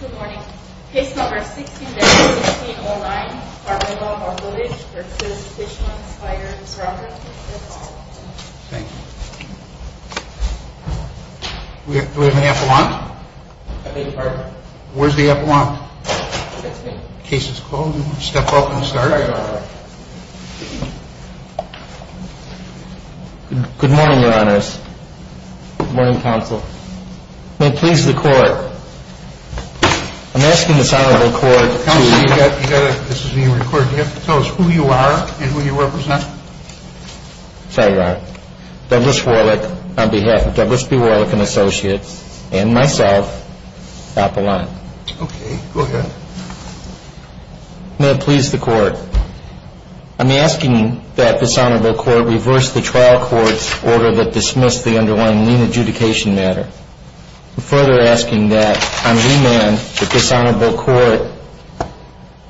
Good morning. Case number 16-016-09. We are developing footage for Tishman Speyer Properties. Thank you. Do we have an F1? I beg your pardon? Where's the F1? Here it is. In case it's cold, we can step off and start. Good morning, Your Honors. Good morning, Counsel. May it please the Court... I'm asking this Honorable Court... Counsel, you have to get it. This is being recorded. You have to tell us who you are and who you represent. Say that. Douglas Warwick, on behalf of Douglas B. Warwick and Associates, and myself, Apollon. Okay. Go ahead. May it please the Court... I'm asking that this Honorable Court reverse the trial court order that dismissed the underlying lien adjudication matter. I'm further asking that on remand that this Honorable Court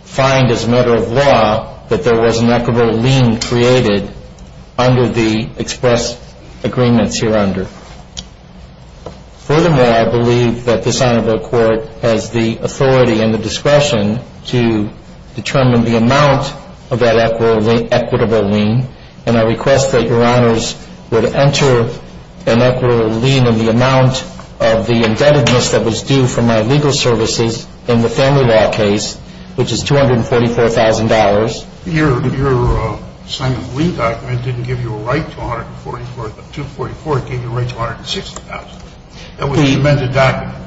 find as a matter of law that there was an equitable lien created under the expressed agreements hereunder. Furthermore, I believe that this Honorable Court has the authority and the discretion to determine the amount of that equitable lien, and I request that Your Honors would enter an equitable lien in the amount of the indebtedness that was due for my legal services in the family law case, which is $244,000. Your signing of the lien document didn't give you a right to $144,000. The $244,000 gave you a right to $160,000. That's what you meant to document.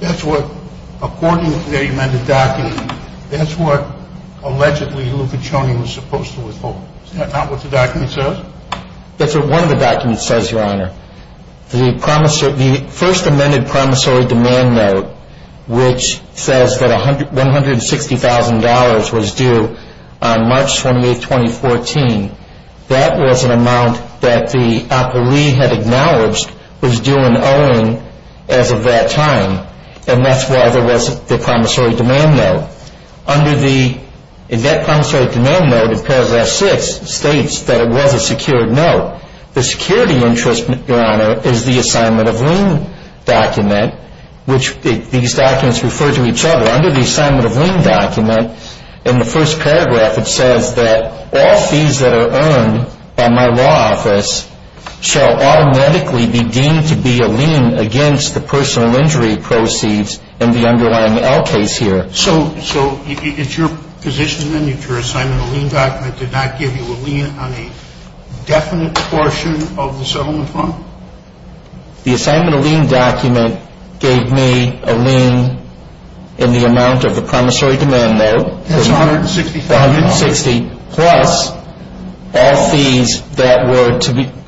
That's what, according to the amended document, that's what, allegedly, Luca Cioni was supposed to withhold. Is that not what the document says? That's what one of the documents says, Your Honor. The first amended promissory demand note, which says that $160,000 was due on March 28, 2014, that was an amount that the appellee had acknowledged was due in owing as of that time, and that's why there wasn't the promissory demand note. In that promissory demand note, it tells us six states that it was a secured note. The security interest, Your Honor, is the assignment of lien document, which these documents refer to each other. Under the assignment of lien document, in the first paragraph, it says that all fees that are earned by my law office shall automatically be deemed to be a lien against the personal injury proceeds in the underlying L case here. So, it's your position then that your assignment of lien document did not give you a lien on a definite portion of the settlement amount? The assignment of lien document gave me a lien in the amount of the promissory demand note. $160,000. $160,000, plus all fees that were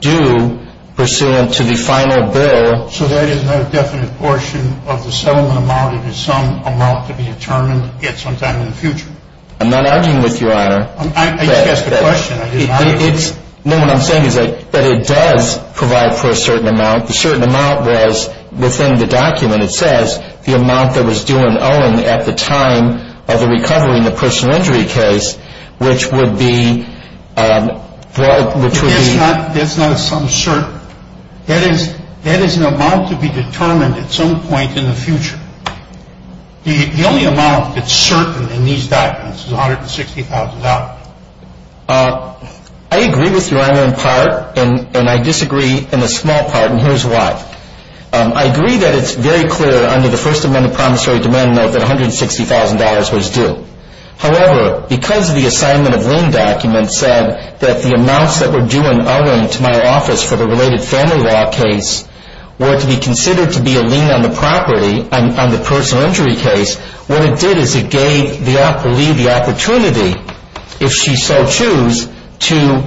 due pursuant to the final bill. So, there is no definite portion of the settlement amount? It is some amount that is determined at some time in the future? I'm not arguing with you, Your Honor. I guess that's the question. No, what I'm saying is that it does provide for a certain amount. The certain amount was within the document. It says the amount that was due in owing at the time of the recovery in the personal injury case, which would be... That's not some certain. That is an amount to be determined at some point in the future. The only amount that's certain in these documents is $160,000. I agree with Your Honor in part, and I disagree in a small part, and here's why. I agree that it's very clear under the First Amendment promissory demand note that $160,000 was due. However, because the assignment of lien documents said that the amounts that were due in owing to my office for the related family law case were to be considered to be a lien on the property, on the personal injury case, what it did is it gave the lead the opportunity, if she so choose, to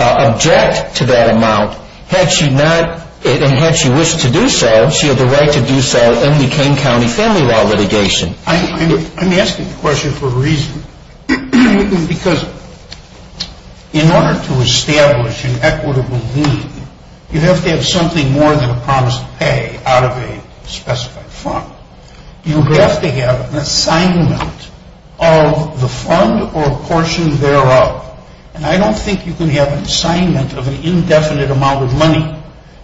object to that amount. Had she not, and had she wished to do so, she had the right to do so in the Kane County family law litigation. I'm asking the question for a reason, because in order to establish an equitable lien, you have to have something more than a promise to pay out of a specified fund. You have to have an assignment of the fund or a portion thereof, and I don't think you can have an assignment of an indefinite amount of money.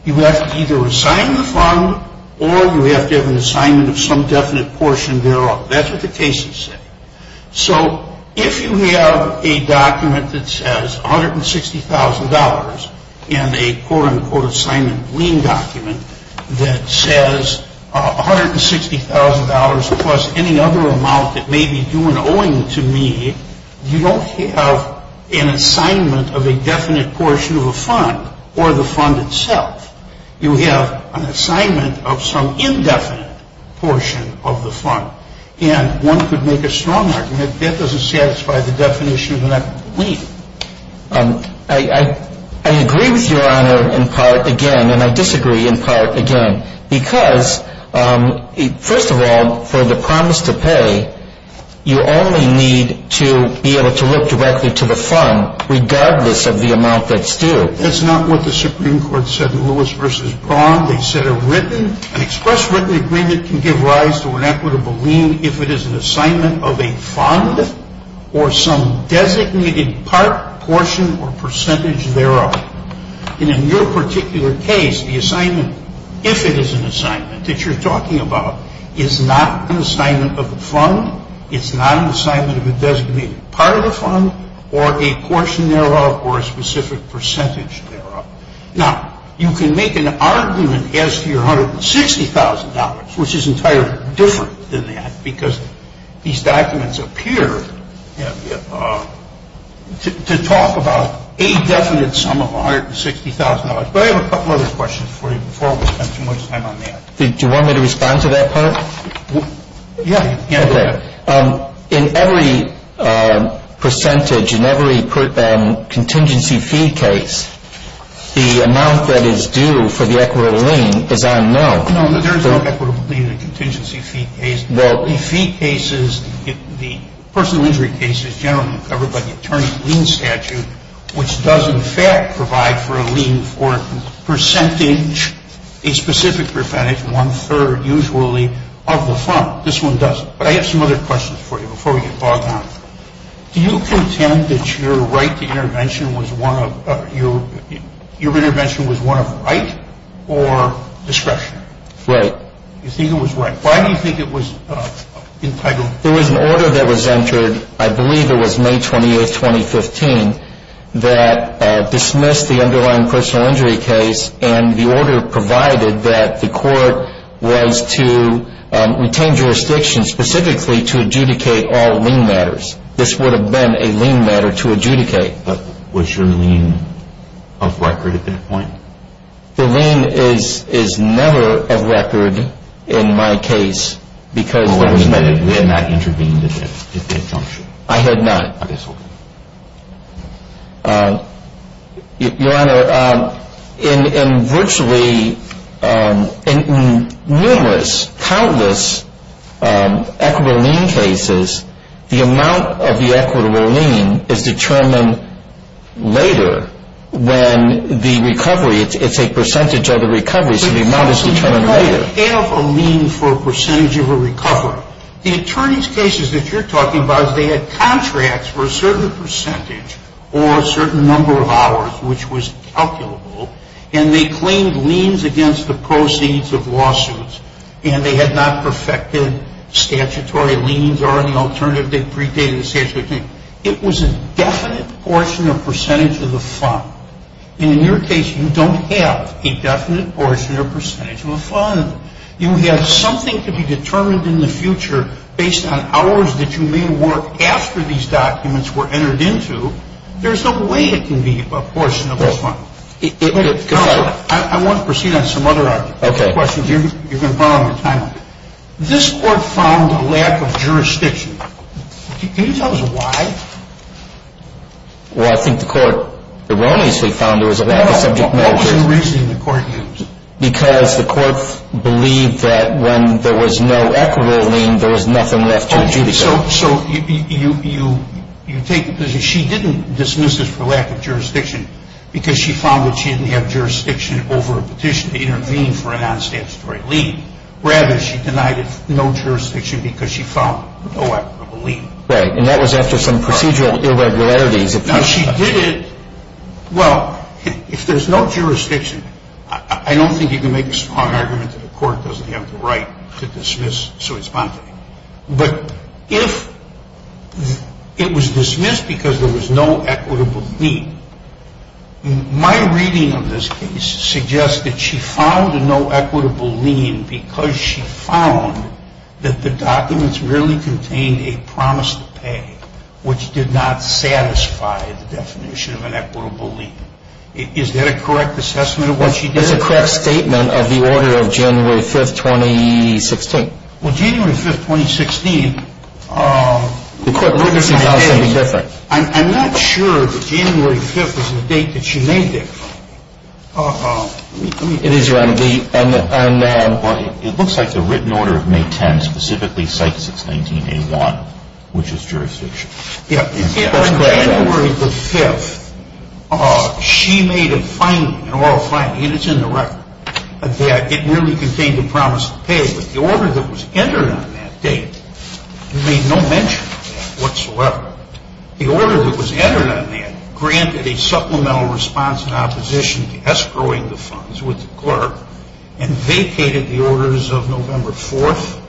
You have to either assign the fund or you have to have an assignment of some definite portion thereof. That's what the case has said. So, if you have a document that says $160,000 and a quote-unquote assignment of a lien document that says $160,000 plus any other amount that may be due in owing to me, you don't have an assignment of a definite portion of a fund or the fund itself. You have an assignment of some indefinite portion of the fund, and one could make a strong argument that that doesn't satisfy the definition of an equitable lien. I agree with Your Honor in part, again, and I disagree in part, again, because, first of all, for the promise to pay, you only need to be able to look directly to the fund regardless of the amount that's due. That's not what the Supreme Court said in Lewis v. Braun. They said a written, express written agreement can give rise to an equitable lien if it is an assignment of a fund or some designated part, portion, or percentage thereof. And in your particular case, the assignment, if it is an assignment that you're talking about, is not an assignment of a fund, it's not an assignment of a designated part of a fund, or a portion thereof, or a specific percentage thereof. Now, you can make an argument as to your $160,000, which is entirely different than that, because these documents appear to talk about a definite sum of $160,000. But I have a couple other questions before we spend too much time on that. Do you want me to respond to that part? Yeah, go ahead. In every percentage, in every contingency fee case, the amount that is due for the equitable lien is unknown. There is no equitable lien in a contingency fee case. In fee cases, the personal injury case is generally covered by the attorney's lien statute, which does in fact provide for a lien for a percentage, a specific percentage, one-third usually, of the fund. This one doesn't. But I have some other questions for you before we get bogged down. Do you contend that your right to intervention was one of right or discretion? Right. You think it was right. Why do you think it was entitled? There was an order that was entered, I believe it was May 20, 2015, that dismissed the underlying personal injury case, and the order provided that the court was to retain jurisdiction specifically to adjudicate all lien matters. This would have been a lien matter to adjudicate. But was your lien of record at that point? The lien is never of record in my case. You had not intervened at that time? I had not. Your Honor, in virtually numerous, countless equitable lien cases, the amount of the equitable lien is determined later than the recovery. It's a percentage of the recovery, so the amount is determined later. But you don't have a lien for a percentage of a recovery. Your Honor, the attorneys' cases that you're talking about, they had contracts for a certain percentage or a certain number of hours, which was calculable, and they claimed liens against the proceeds of lawsuits, and they had not perfected statutory liens or an alternative predating statutory liens. It was a definite portion or percentage of the fund. And in your case, you don't have a definite portion or percentage of the fund. You have something to be determined in the future based on hours that you made work after these documents were entered into. There's no way it can be a portion of the fund. I want to proceed on some other questions. You've been following my time. This Court found a lack of jurisdiction. Can you tell us why? Well, I think the Court, the release they found, there was a lack of jurisdiction. Because the Court believed that when there was no equitable lien, there was nothing left to do. So you take, she didn't dismiss it for lack of jurisdiction because she found that she didn't have jurisdiction over a petition to intervene for a non-statutory lien. Rather, she denied it no jurisdiction because she found no equitable lien. Right, and that was after some procedural irregularities. Well, if there's no jurisdiction, I don't think you can make a smart argument that the Court doesn't have the right to dismiss. But if it was dismissed because there was no equitable lien, my reading of this case suggests that she found no equitable lien because she found that the documents really contained a promise to pay, which did not satisfy the definition of an equitable lien. Is there a correct assessment of what she did? There's a correct statement of the order of January 5th, 2016. Well, January 5th, 2016. The Court ruled it to be January 5th. I'm not sure if January 5th is the date that she made it. It is January 5th. It looks like the written order of May 10 specifically cites 169A1, which is jurisdiction. Yeah. In January 5th, she made an oral finding, and it's in the record, that it really contained a promise to pay, but the order that was entered on that date made no mention of that whatsoever. The order that was entered on that granted a supplemental response in opposition to the escrowing of the funds with the clerk and vacated the orders of November 4th,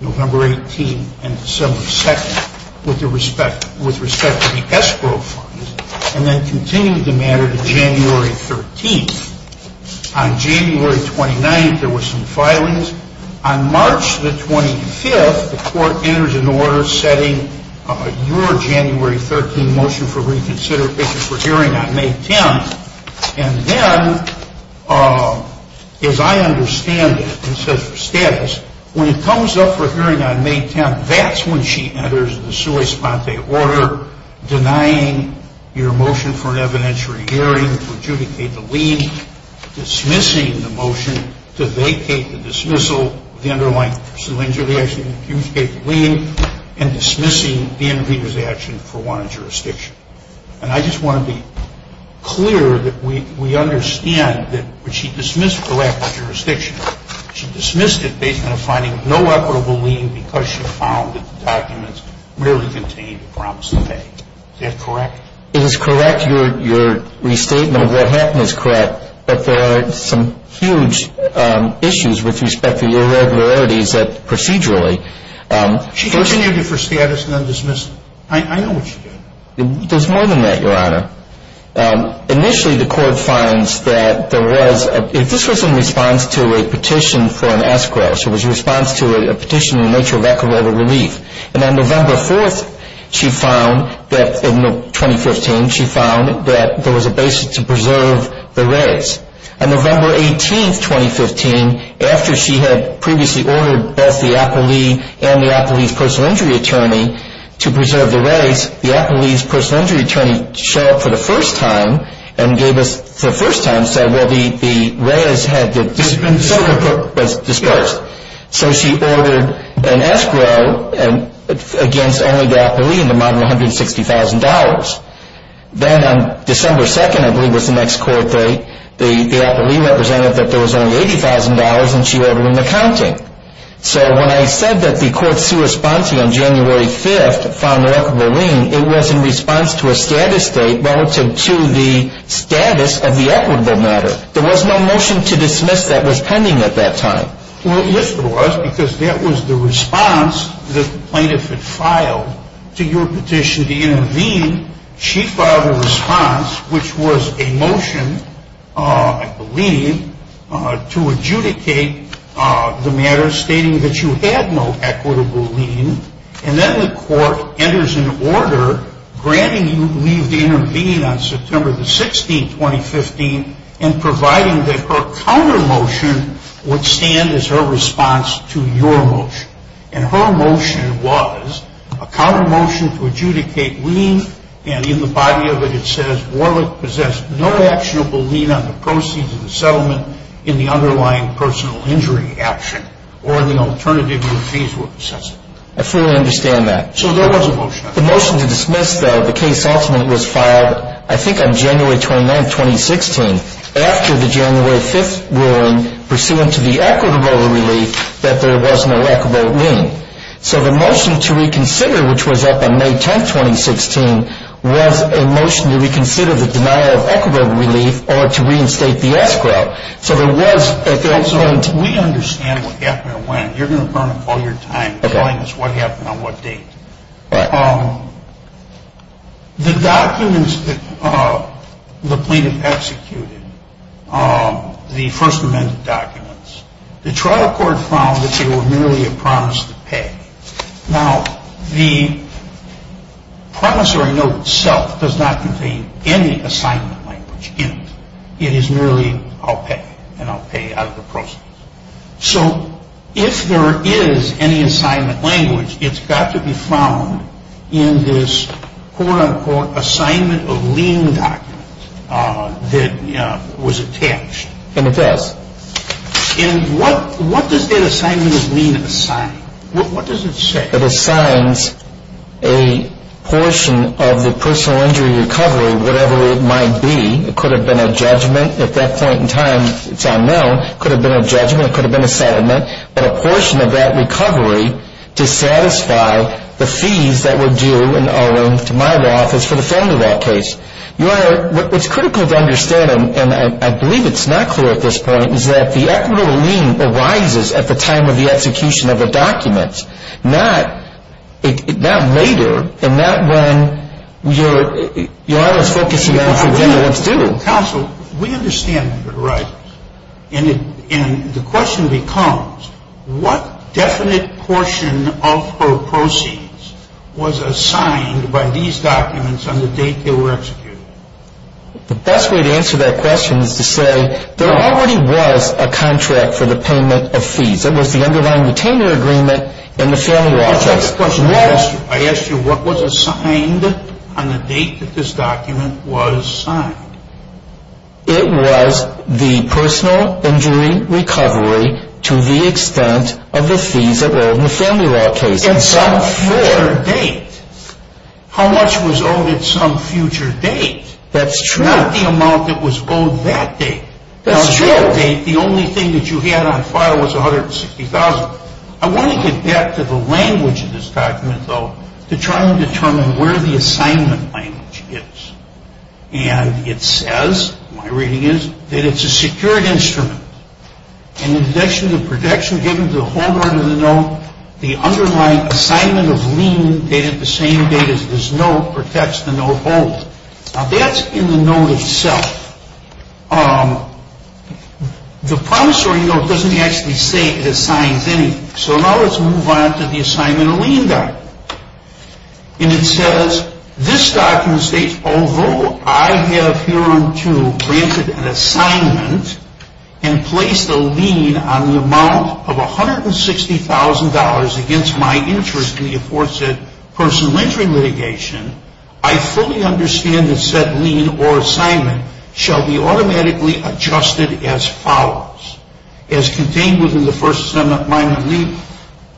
November 18th, and December 2nd with respect to the escrow funds and then continued the matter to January 13th. On January 29th, there were some filings. On March 25th, the Court enters an order setting your January 13 motion for reconsideration for hearing on May 10th. And then, as I understand it, in such a status, when it comes up for hearing on May 10th, that's when she enters the sua sponte order denying your motion for evidentiary hearing, for adjudicating the lien, dismissing the motion to vacate the dismissal of the underlying cylindrical action to adjudicate the lien, and dismissing the intervenor's action for one jurisdiction. And I just want to be clear that we understand that when she dismissed the lack of jurisdiction, she dismissed it based on finding no equitable lien because she found that the documents really contained the promise to pay. Is that correct? It is correct. Your restatement of what happened is correct. But there are some huge issues with respect to irregularities procedurally. She continued it for status and then dismissed it. I know what she did. There's more than that, Your Honor. Initially, the Court finds that there was a... This was in response to a petition for an escrow. It was in response to a petition in the nature of equitable relief. And on November 4th, she found that, in 2015, she found that there was a basis to preserve the regs. On November 18th, 2015, after she had previously ordered both the appellee and the appellee's personal injury attorney to preserve the regs, the appellee's personal injury attorney showed up for the first time and gave us, for the first time, said, Well, the regs had been disposed of. So she ordered an escrow against only the appellee in the amount of $160,000. Then, on December 2nd, I believe, was the next court date, the appellee represented that there was only $80,000 and she ordered an accounting. So when I said that the Court see responses on January 5th, found that, I believe, it was in response to a status date relative to the status of the equitable matter. There was no motion to dismiss that was pending at that time. Well, yes, there was, because that was the response that the plaintiff had filed to your petition to intervene. She filed a response, which was a motion, I believe, to adjudicate the matter stating that you had no equitable lien. And then the Court enters an order granting you leave to intervene on September 16th, 2015, and providing that her counter-motion would stand as her response to your motion. And her motion was a counter-motion to adjudicate lien, and in the body of it, it says, Warwick possessed no actionable lien on the proceeds of the settlement in the underlying personal injury action or the alternative retrieval assessment. I fully understand that. So there was a motion. The motion to dismiss the case ultimately was filed, I think, on January 29th, 2016. After the January 5th ruling, pursuant to the equitable relief, that there was no equitable lien. So the motion to reconsider, which was up on May 10th, 2016, was a motion to reconsider the denial of equitable relief or to reinstate the escrow. So there was, at that time... We understand what the equitable lien is. You're going to burn up all your time telling us what happened on what date. The documents that the plaintiff executed, the First Amendment documents, the trial court found that they were merely a promise to pay. Now, the promissory note itself does not contain any assignment language in it. It is merely, I'll pay, and I'll pay out of the process. So if there is any assignment language, it's got to be found in this quote-unquote assignment of lien documents that was attached. And it does. And what does that assignment of lien assignment mean? What does it say? It assigns a portion of the personal injury recovery, whatever it might be. It could have been a judgment. At that point in time, it's unknown. It could have been a judgment. It could have been a settlement. But a portion of that recovery to satisfy the fees that were due in owing to my law office for the family law case. Your Honor, it's critical to understand, and I believe it's not clear at this point, is that the equitable lien arises at the time of the execution of the documents, not later. And not when you're... Your Honor, it's focusing on... Counsel, we understand that it arises. And the question becomes, what definite portion of her proceeds was assigned by these documents on the date they were executed? The best way to answer that question is to say there already was a contract for the payment of fees. There was the underlying retainer agreement and the family law case. I ask you, what was assigned on the date that this document was signed? It was the personal injury recovery to the extent of the fees that were owed in the family law case. In some future date. How much was owed at some future date? That's true. Not the amount that was owed that date. That's true. The only thing that you had on file was $160,000. I want to get back to the language of this document, though, to try and determine where the assignment language is. And it says, my reading is, that it's a secured instrument. In addition to protection given to the homeowner of the note, the underlying assignment of lien dated the same date as this note protects the note holder. Now, that's in the note itself. The promissory note doesn't actually state it assigned any. So, now let's move on to the assignment of lien value. And it says, this document states, although I have hereinto granted an assignment and placed a lien on the amount of $160,000 against my interest in the aforesaid personal injury litigation, I fully understand that said lien or assignment shall be automatically adjusted as follows. As contained within the First Amendment Minor League,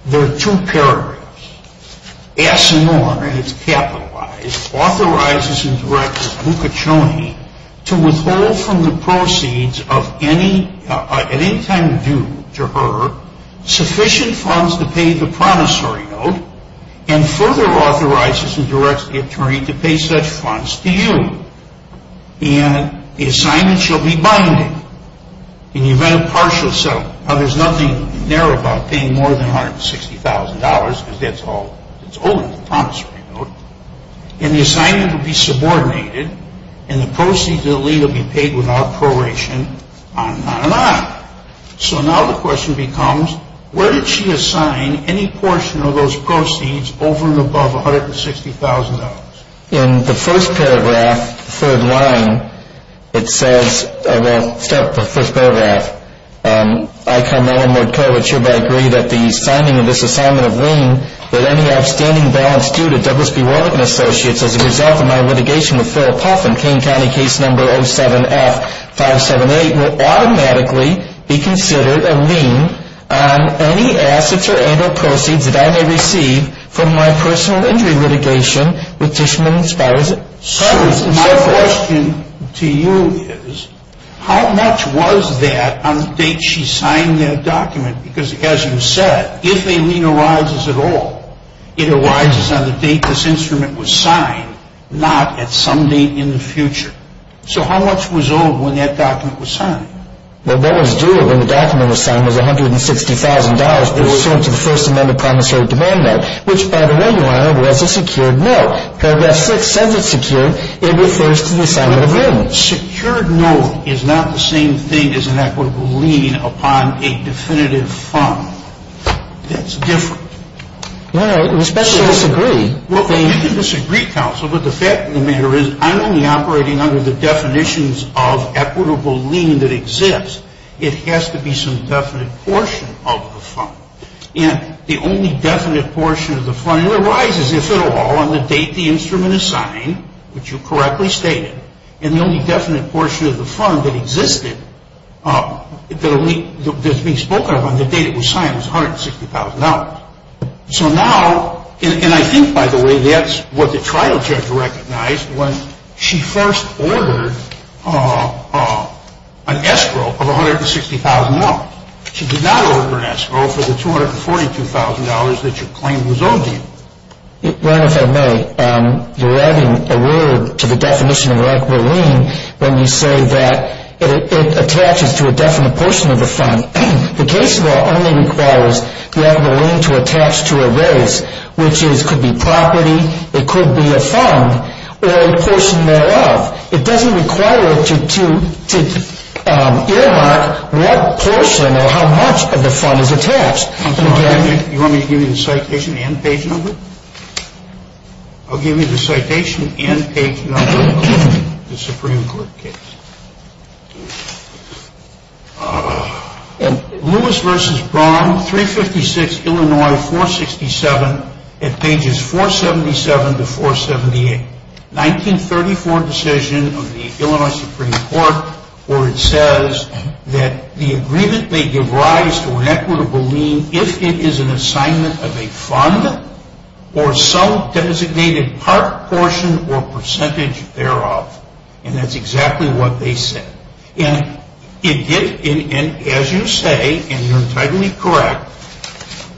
there are two paragraphs. As someone, and it's capitalized, authorizes and directs Luca Cioni to withhold from the proceeds of any kind due to her sufficient funds to pay the promissory note and further authorizes and directs the attorney to pay such funds to you. And the assignment shall be binding. In the event of partial self, there's nothing there about paying more than $160,000 because that's all it's owed, the promissory note. And the assignment will be subordinated and the proceeds of the lien will be paid without correlation, on and on and on. So, now the question becomes, where did she assign any portion of those proceeds over and above $160,000? In the first paragraph, third line, it says, well, the first paragraph, I come in and would call it hereby agreed that the signing of this assignment of lien with any outstanding balance due to W.C. Reviton Associates as a result of my litigation with Philip Hoffman, Kane County Case No. 07-578, will automatically be considered a lien on any assets or any proceeds that I may receive from my personal entity litigation with Fishman & Schuyler. So, my question to you is, how much was that on the date she signed that document? Because, as you said, if a lien arises at all, it arises on the date this instrument was signed, not at some date in the future. So, how much was owed when that document was signed? Well, that was due, when the document was signed, was $160,000. It was due to the First Amendment Promissory Demand Note, which by the way, by the way, was a secured note. Because that sixth time it's secured, it refers to the signing of the agreement. Secured note is not the same thing as an equitable lien upon a definitive fund. That's different. Well, I respectfully disagree. Well, we disagree, counsel, but the fact of the matter is, I'm only operating under the definitions of equitable lien that exists. It has to be some definite portion of the fund. And the only definite portion of the fund that arises, if at all, on the date the instrument is signed, which you correctly stated, and the only definite portion of the fund that existed, that has been spoken of on the date it was signed, was $160,000. So now, and I think, by the way, that's what the trial judge recognized when she first ordered an escrow of $160,000. She did not order an escrow for the $242,000 that you claimed was owed to you. Your Honor, if I may, you're adding a word to the definition of equitable lien when you say that it attaches to a definite portion of the fund. The case law only requires that the lien to attach to a vote, which could be property, it could be a fund, or the person thereof. It doesn't require it to earmark what portion or how much of the fund is attached. You want me to give you the citation and page number? I'll give you the citation and page number of the Supreme Court case. Lewis v. Braun, 356 Illinois 467 at pages 477-478. 1934 decision of the Illinois Supreme Court where it says that the agreement may give rise to an equitable lien if it is an assignment of a fund or some designated part, portion, or percentage thereof. And that's exactly what they said. And as you say, and you're entirely correct,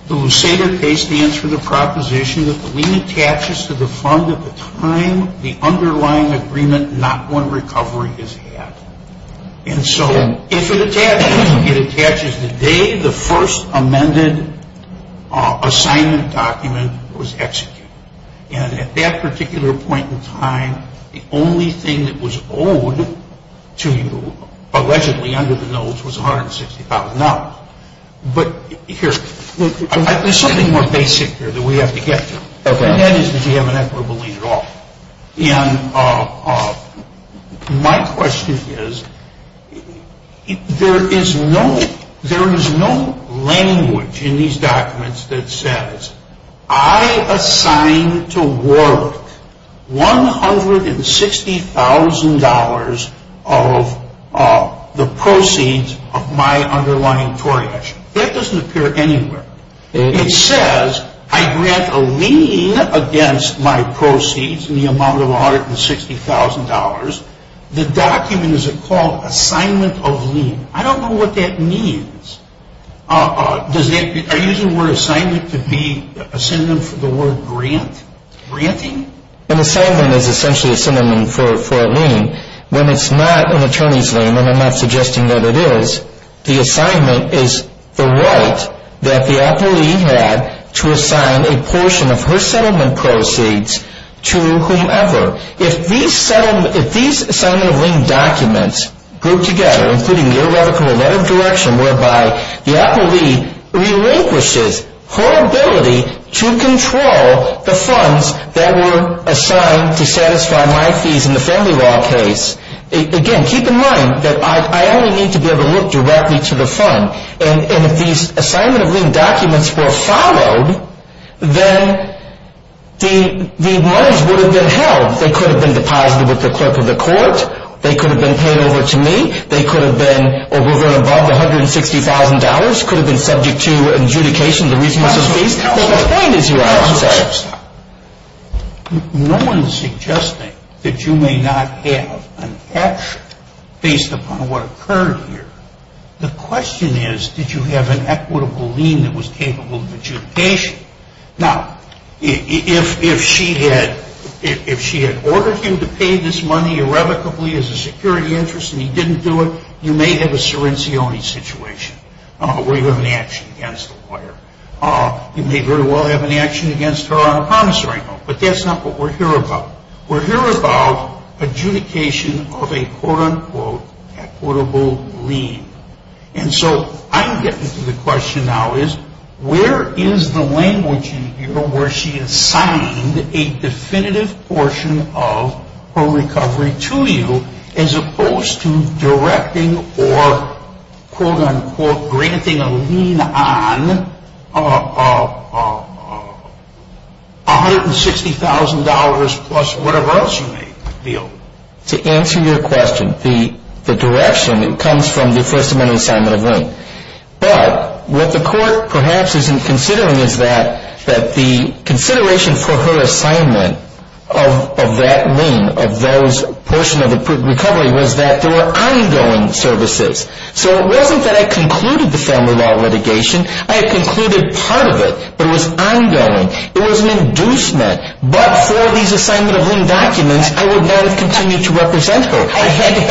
the Lucida case stands for the proposition that the lien attaches to the fund at the time the underlying agreement not going to recovery is at. And so it attaches the day the first amended assignment document was executed. And at that particular point in time, the only thing that was owed to you allegedly under the notes was $160,000. But here's something more basic that we have to get to, and that is that you have an equitable lien at all. And my question is, there is no language in these documents that says, I assign to Warwick $160,000 of the proceeds of my underlying tort action. That doesn't appear anywhere. It says, I grant a lien against my proceeds in the amount of $160,000. The document is called assignment of lien. I don't know what that means. Are you using the word assignment to be a synonym for the word grant, granting? An assignment is essentially a synonym for a lien. When it's not an attorney's lien, and I'm not suggesting that it is, the assignment is the right that the appellee had to assign a portion of her settlement proceeds to whomever. If these assignment of lien documents go together, including your letter of direction, whereby the appellee relinquishes her ability to control the funds that were assigned to satisfy my fees in the family law case, again, keep in mind that I only need to be able to look directly to the fund. And if these assignment of lien documents were followed, then these loans would have been held. They could have been deposited with the clerk of the court. They could have been paid over to me. They could have been, or were going to involve $160,000. Could have been subject to adjudication, the reason for the fees. That's not the point, is it? No one is suggesting that you may not have an action based upon what occurred here. The question is, did you have an equitable lien that was capable of adjudication? Now, if she had ordered him to pay this money irrevocably as a security interest and he didn't do it, you may have a serenity only situation, where you have an action against the clerk. You may very well have an action against her on a promissory note, but that's not what we're here about. We're here about adjudication of a quote-unquote equitable lien. And so I'm getting to the question now is, where is the language in here where she assigned a definitive portion of her recovery to you, as opposed to directing or quote-unquote granting a lien on $160,000 plus whatever else you may feel? To answer your question, the direction, it comes from the First Amendment assignment of lien. But what the court perhaps isn't considering is that the consideration for her assignment of that lien, of those portions of recovery, was that they were ongoing services. So it wasn't that I concluded the family law litigation. I concluded part of it, but it was ongoing. It was an inducement. But for these assignment of lien documents, I would never continue to represent her. I think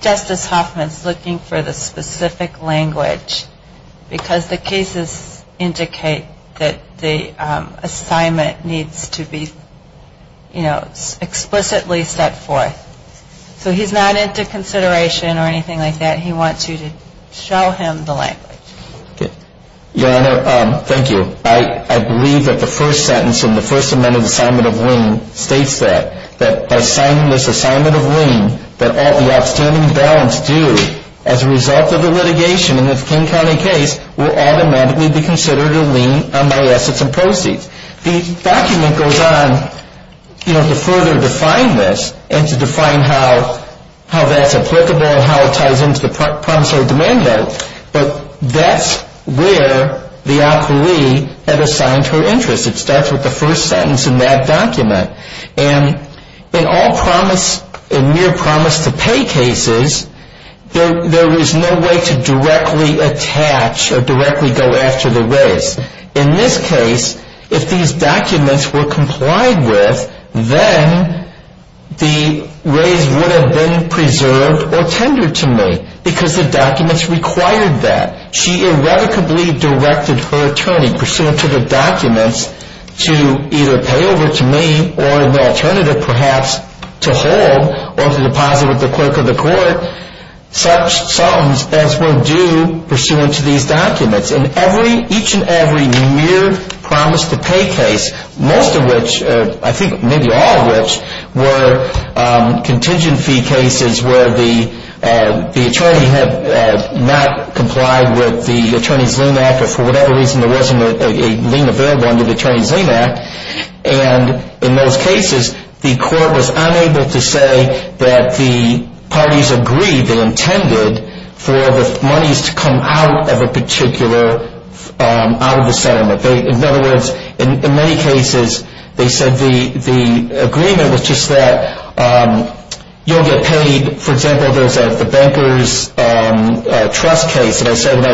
Justice Hoffman is looking for the specific language because the cases indicate that the assignment needs to be explicitly set forth. So he's not into consideration or anything like that. He wants you to show him the language. Your Honor, thank you. I believe that the first sentence in the First Amendment assignment of lien states that by assigning this assignment of lien, that all the outstanding balance due as a result of the litigation in this King County case will automatically be considered a lien on my assets and proceeds. The document goes on to further define this and to define how that's applicable and how it ties into the promissory demand bill. But that's where the appellee had assigned her interest. It starts with the first sentence in that document. And in all promise, in mere promise to pay cases, there is no way to directly attach or directly go after the raise. In this case, if these documents were complied with, then the raise would have been preserved or tendered to me because the documents required that. She irrevocably directed her attorney pursuant to the documents to either pay over to me or the alternative perhaps to hold or to deposit with the clerk of the court such sums as were due pursuant to these documents. Each and every mere promise to pay case, most of which, I think maybe all of which, were contingency cases where the attorney had not complied with the Attorney's Lien Act or for whatever reason there wasn't a lien available under the Attorney's Lien Act. And in those cases, the court was unable to say that the parties agreed or intended for the monies to come out of a particular settlement. In other words, in many cases, they said the agreement was just that you'll get paid. For example, there's the Benkers Trust case. They said,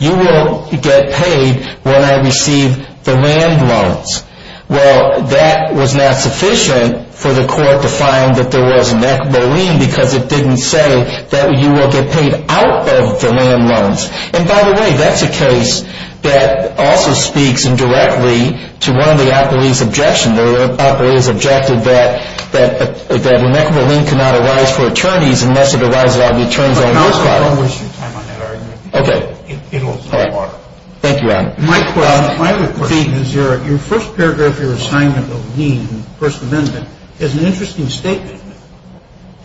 you will get paid when I receive the land loans. Well, that was not sufficient for the court to find that there was a neck marine because it didn't say that you will get paid out of the land loans. And by the way, that's a case that also speaks indirectly to one of the operative's objections that the neck marine cannot arise for attorneys unless it arises on the attorney's side. Okay. Thank you, Adam. Mike, what I'm trying to put in is your first paragraph of your assignment of lien, First Amendment, is an interesting statement.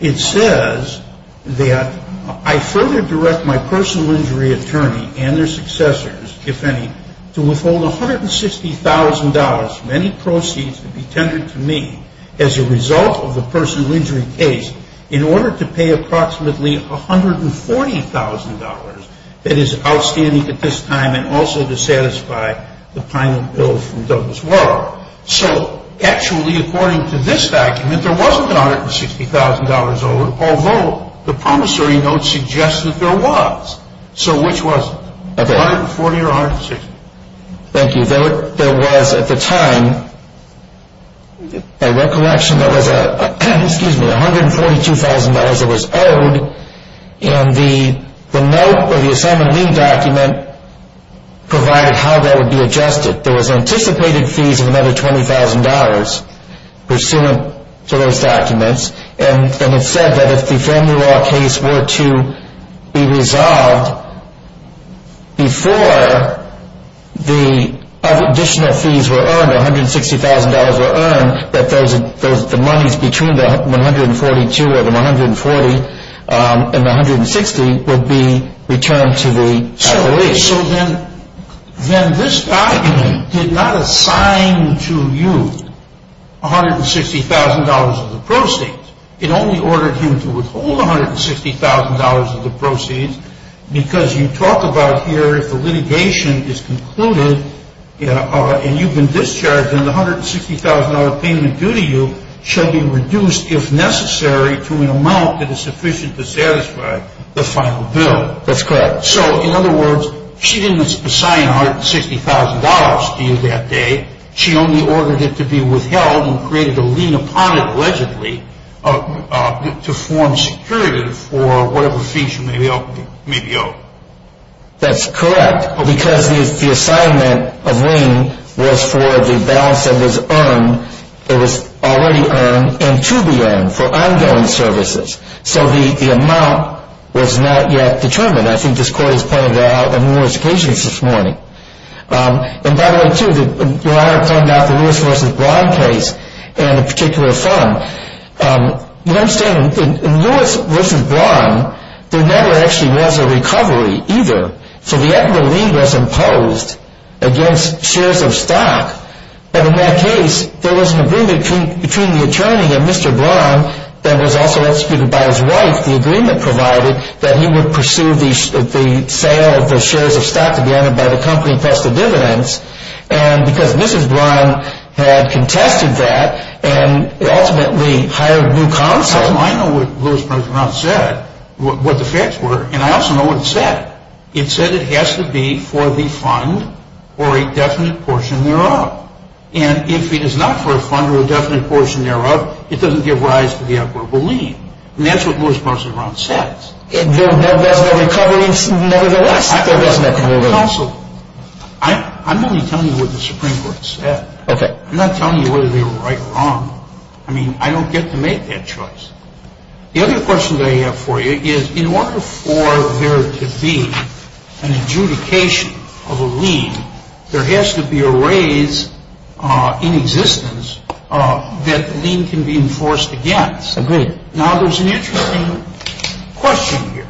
It says that, I further direct my personal injury attorney and their successors, if any, to withhold $160,000 from any proceeds to be tendered to me as a result of the personal injury case in order to pay approximately $140,000 that is outstanding at this time and also to satisfy the time of bill from Douglas Warren. So, actually, according to this document, there wasn't $160,000 over, although the promissory note suggests that there was. So, which was it? $140,000 or $160,000? Thank you. There was, at the time, a recollection that was $142,000 that was owed, and the promissory note or the assignment of lien document provided how that would be adjusted. There was anticipated fees of another $20,000 pursuant to those documents, and it said that if the family law case were to be resolved before the additional fees were earned, $160,000 were earned, that the monies between the $142,000 and the $140,000 and the $160,000 would be returned to the appellate. Okay, so then this document did not assign to you $160,000 of the proceeds. It only ordered you to withhold $160,000 of the proceeds because you talk about here the litigation is concluded and you've been discharged and the $160,000 payment due to you shall be reduced if necessary to an amount that is sufficient to satisfy the final bill. That's correct. So, in other words, she didn't assign $160,000 to you that day. She only ordered it to be withheld and created a lien upon it allegedly to form a superlative for whatever fees you may be owed. That's correct, because the assignment of lien was for the balance that was already earned and to be earned for ongoing services. So the amount was not yet determined. I think this court has pointed it out on numerous occasions this morning. And by the way, too, when I was talking about the Lewis v. Braun case and a particular firm, you understand, in Lewis v. Braun, there never actually was a recovery either. So the appellate lien was imposed against shares of stock. But in that case, there was an agreement between the attorney and Mr. Braun that was also, excuse me, by his wife. The agreement provided that he would pursue the sale of the shares of stock to be earned by the company in place of dividends. And because Mr. Braun had contracted that and ultimately hired a new contractor, I know what Lewis v. Braun said, what the facts were, and I also know what it said. It said it has to be for the fund or a definite portion thereof. And if it is not for a fund or a definite portion thereof, it doesn't give rise to the applicable lien. And that's what Lewis v. Braun says. There was never a recovery? There was never a recovery. And also, I'm only telling you what the Supreme Court said. I'm not telling you whether they were right or wrong. I mean, I don't get to make that choice. The other question that I have for you is, in order for there to be an adjudication of a lien, there has to be a raise in existence that the lien can be enforced against. Agreed. Now, there's an interesting question here.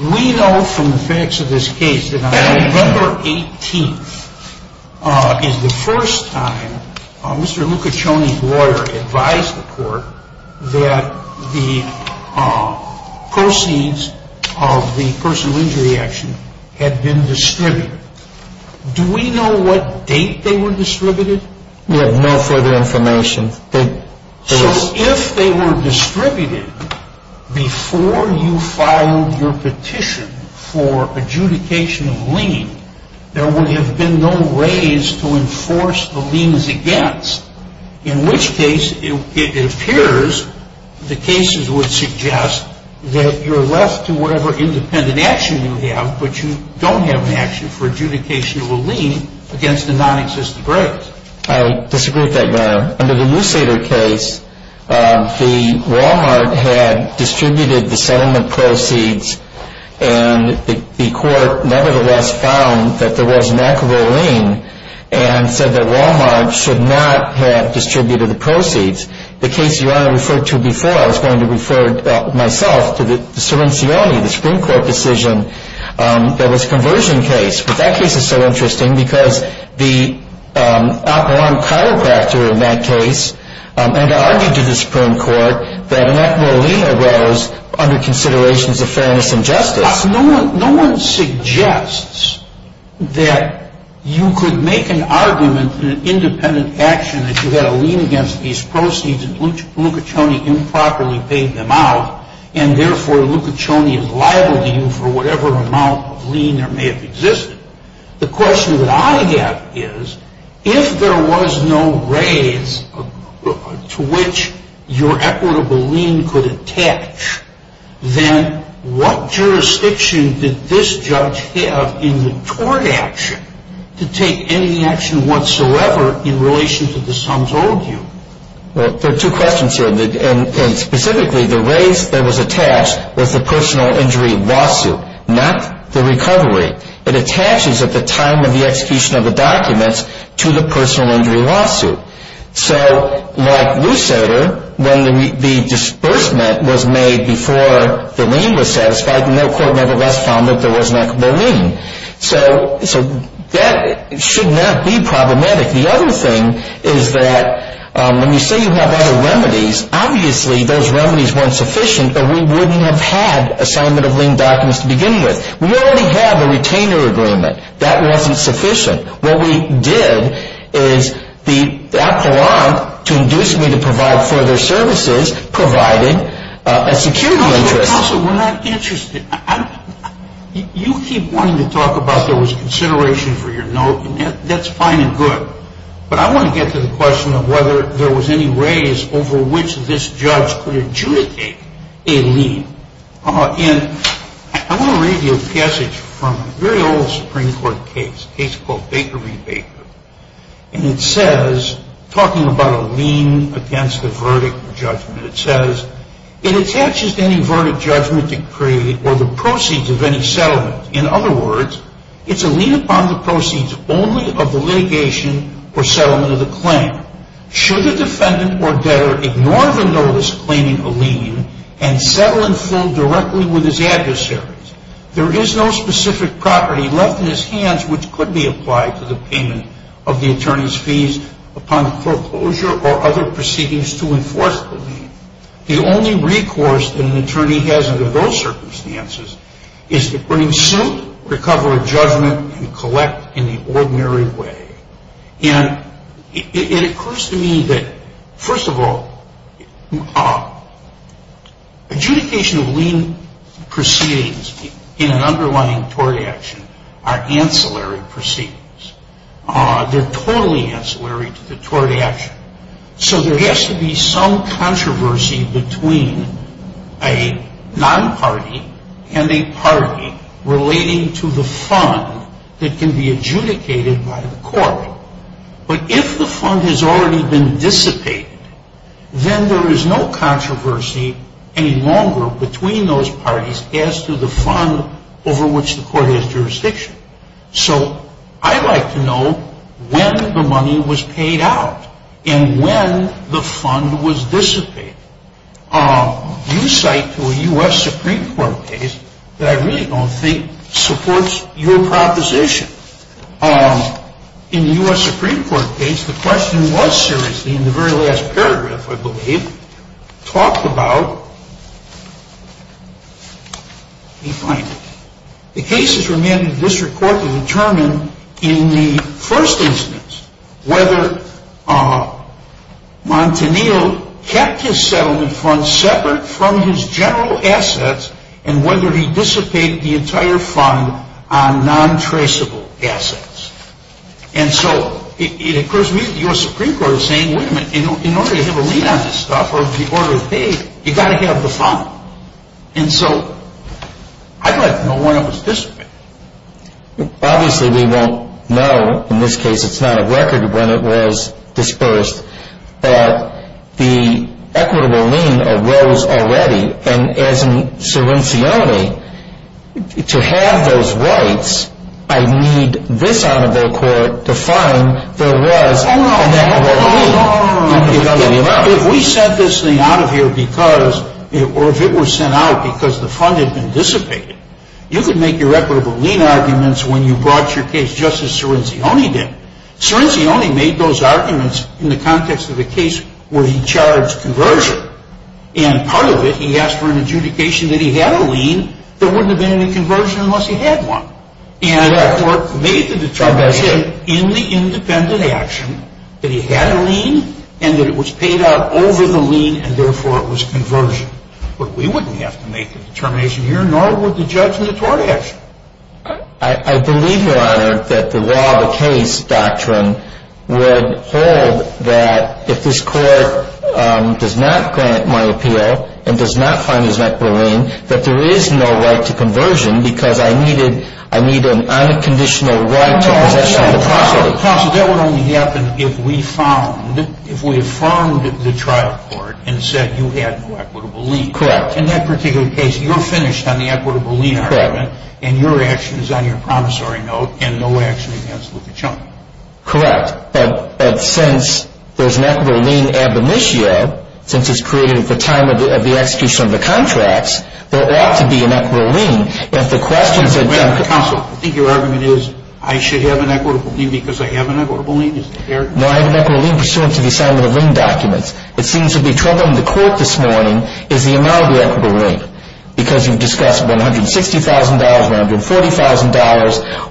We know from the facts of this case that on November 18th is the first time Mr. Lucaconi's lawyer advised the court that the proceeds of the personal injury action had been distributed. Do we know what date they were distributed? We have no further information. So if they were distributed before you filed your petition for adjudication of lien, there would have been no raise to enforce the liens against, in which case it appears the cases would suggest that you're left to whatever independent action you have, but you don't have an action for adjudication of a lien against a non-existent break. I disagree with that, Your Honor. Under the Musader case, the Wal-Mart had distributed the settlement proceeds, and the court nevertheless found that there was a lack of a lien and said that Wal-Mart should not have distributed the proceeds. The case Your Honor referred to before, I was going to refer myself to the Serencioni, the Supreme Court decision, that was a conversion case. But that case is so interesting because the operant chiropractor in that case had argued to the Supreme Court that a lack of a lien arose under considerations of fairness and justice. No one suggests that you could make an argument in an independent action that you had a lien against these proceeds and Lucaconi improperly paid them out, and therefore Lucaconi is liable to you for whatever amount of lien there may have existed. The question that I get is, if there was no raise to which your equitable lien could attach, then what jurisdiction did this judge have in the court action to take any action whatsoever in relation to the sum told you? There are two questions here. Specifically, the raise that was attached was the personal injury lawsuit, not the recovery. It attaches at the time of the execution of the document to the personal injury lawsuit. So, like Lucero, when the disbursement was made before the lien was satisfied, no court nevertheless found that there was a lack of a lien. So that should not be problematic. The other thing is that when you say you have other remedies, obviously those remedies weren't sufficient and we wouldn't have had assignment of lien documents to begin with. We already have a retainer agreement. That wasn't sufficient. What we did is the APLR to induce me to provide further services provided a security measure. Also, we're not interested. You keep wanting to talk about there was consideration for your note, and that's fine and good. But I want to get to the question of whether there was any raise over which this judge could adjudicate a lien. I want to read you a passage from a very old Supreme Court case, a case called Baker v. Baker. And it says, talking about a lien against a verdict or judgment, it says, it attaches to any verdict, judgment, decree, or the proceeds of any settlement. In other words, it's a lien upon the proceeds only of the litigation or settlement of the claim. Should the defendant or debtor ignore the notice claiming a lien and settle in full directly with his adversaries, there is no specific property left in his hands which could be applied for the payment of the attorney's fees upon foreclosure or other proceedings to enforce the lien. The only recourse that an attorney has under those circumstances is to bring suit, recover a judgment, and collect in the ordinary way. And it occurs to me that, first of all, adjudication of lien proceedings in an underlying court action are ancillary proceedings. They're totally ancillary to the court action. So there has to be some controversy between a non-party and a party relating to the fund that can be adjudicated by the court. But if the fund has already been dissipated, then there is no controversy any longer between those parties as to the fund over which the court has jurisdiction. So I'd like to know when the money was paid out and when the fund was dissipated. You cite to a U.S. Supreme Court case that I really don't think supports your proposition. In the U.S. Supreme Court case, the question was seriously, in the very last paragraph, I believe, talked about the cases remaining in the district court to determine, in the first instance, whether Montanillo kept his settlement fund separate from his general assets and whether he dissipated the entire fund on non-traceable assets. And so it occurs to me that the U.S. Supreme Court is saying, wait a minute, in order to have a lien on this stuff, or if the order is paid, you've got to have the fund. And so I'd like to know when it was dissipated. Obviously, we won't know. In this case, it's not a record, but it was disbursed. But the equitable lien arose already. And as in Cerenzioni, to have those rights, I need this honorable court to find the rights. If we sent this thing out of here because, or if it was sent out because the fund had been dissipated, you could make irreparable lien arguments when you brought your case just as Cerenzioni did. Cerenzioni made those arguments in the context of a case where he charged conversion. And part of it, he asked for an adjudication that he had a lien, there wouldn't have been any conversion unless he had one. And the court made the determination in the independent action that he had a lien, and that it was paid out over the lien, and therefore it was conversion. But we wouldn't have to make a determination here, nor would the judge in the court action. I believe, Your Honor, that the law of the case doctrine would hold that if this court does not grant money appeal, and does not find these equitable liens, that there is no right to conversion, because I need an unconditional right to compensation. Counsel, what would only happen if we found, if we affirmed the trial court and said you had an equitable lien? Correct. In that particular case, you're finished on the equitable lien argument. And your action is on your promissory note, and no action is negligible. Correct. But since there's an equitable lien ad vimitio, since it's created at the time of the execution of the contracts, there ought to be an equitable lien. Counsel, I think your argument is I should have an equitable lien because I have an equitable lien? No, I have an equitable lien pursuant to the assignment of lien documents. It seems to be troubling the court this morning is the amount of the equitable lien, because you've discussed $160,000, $140,000,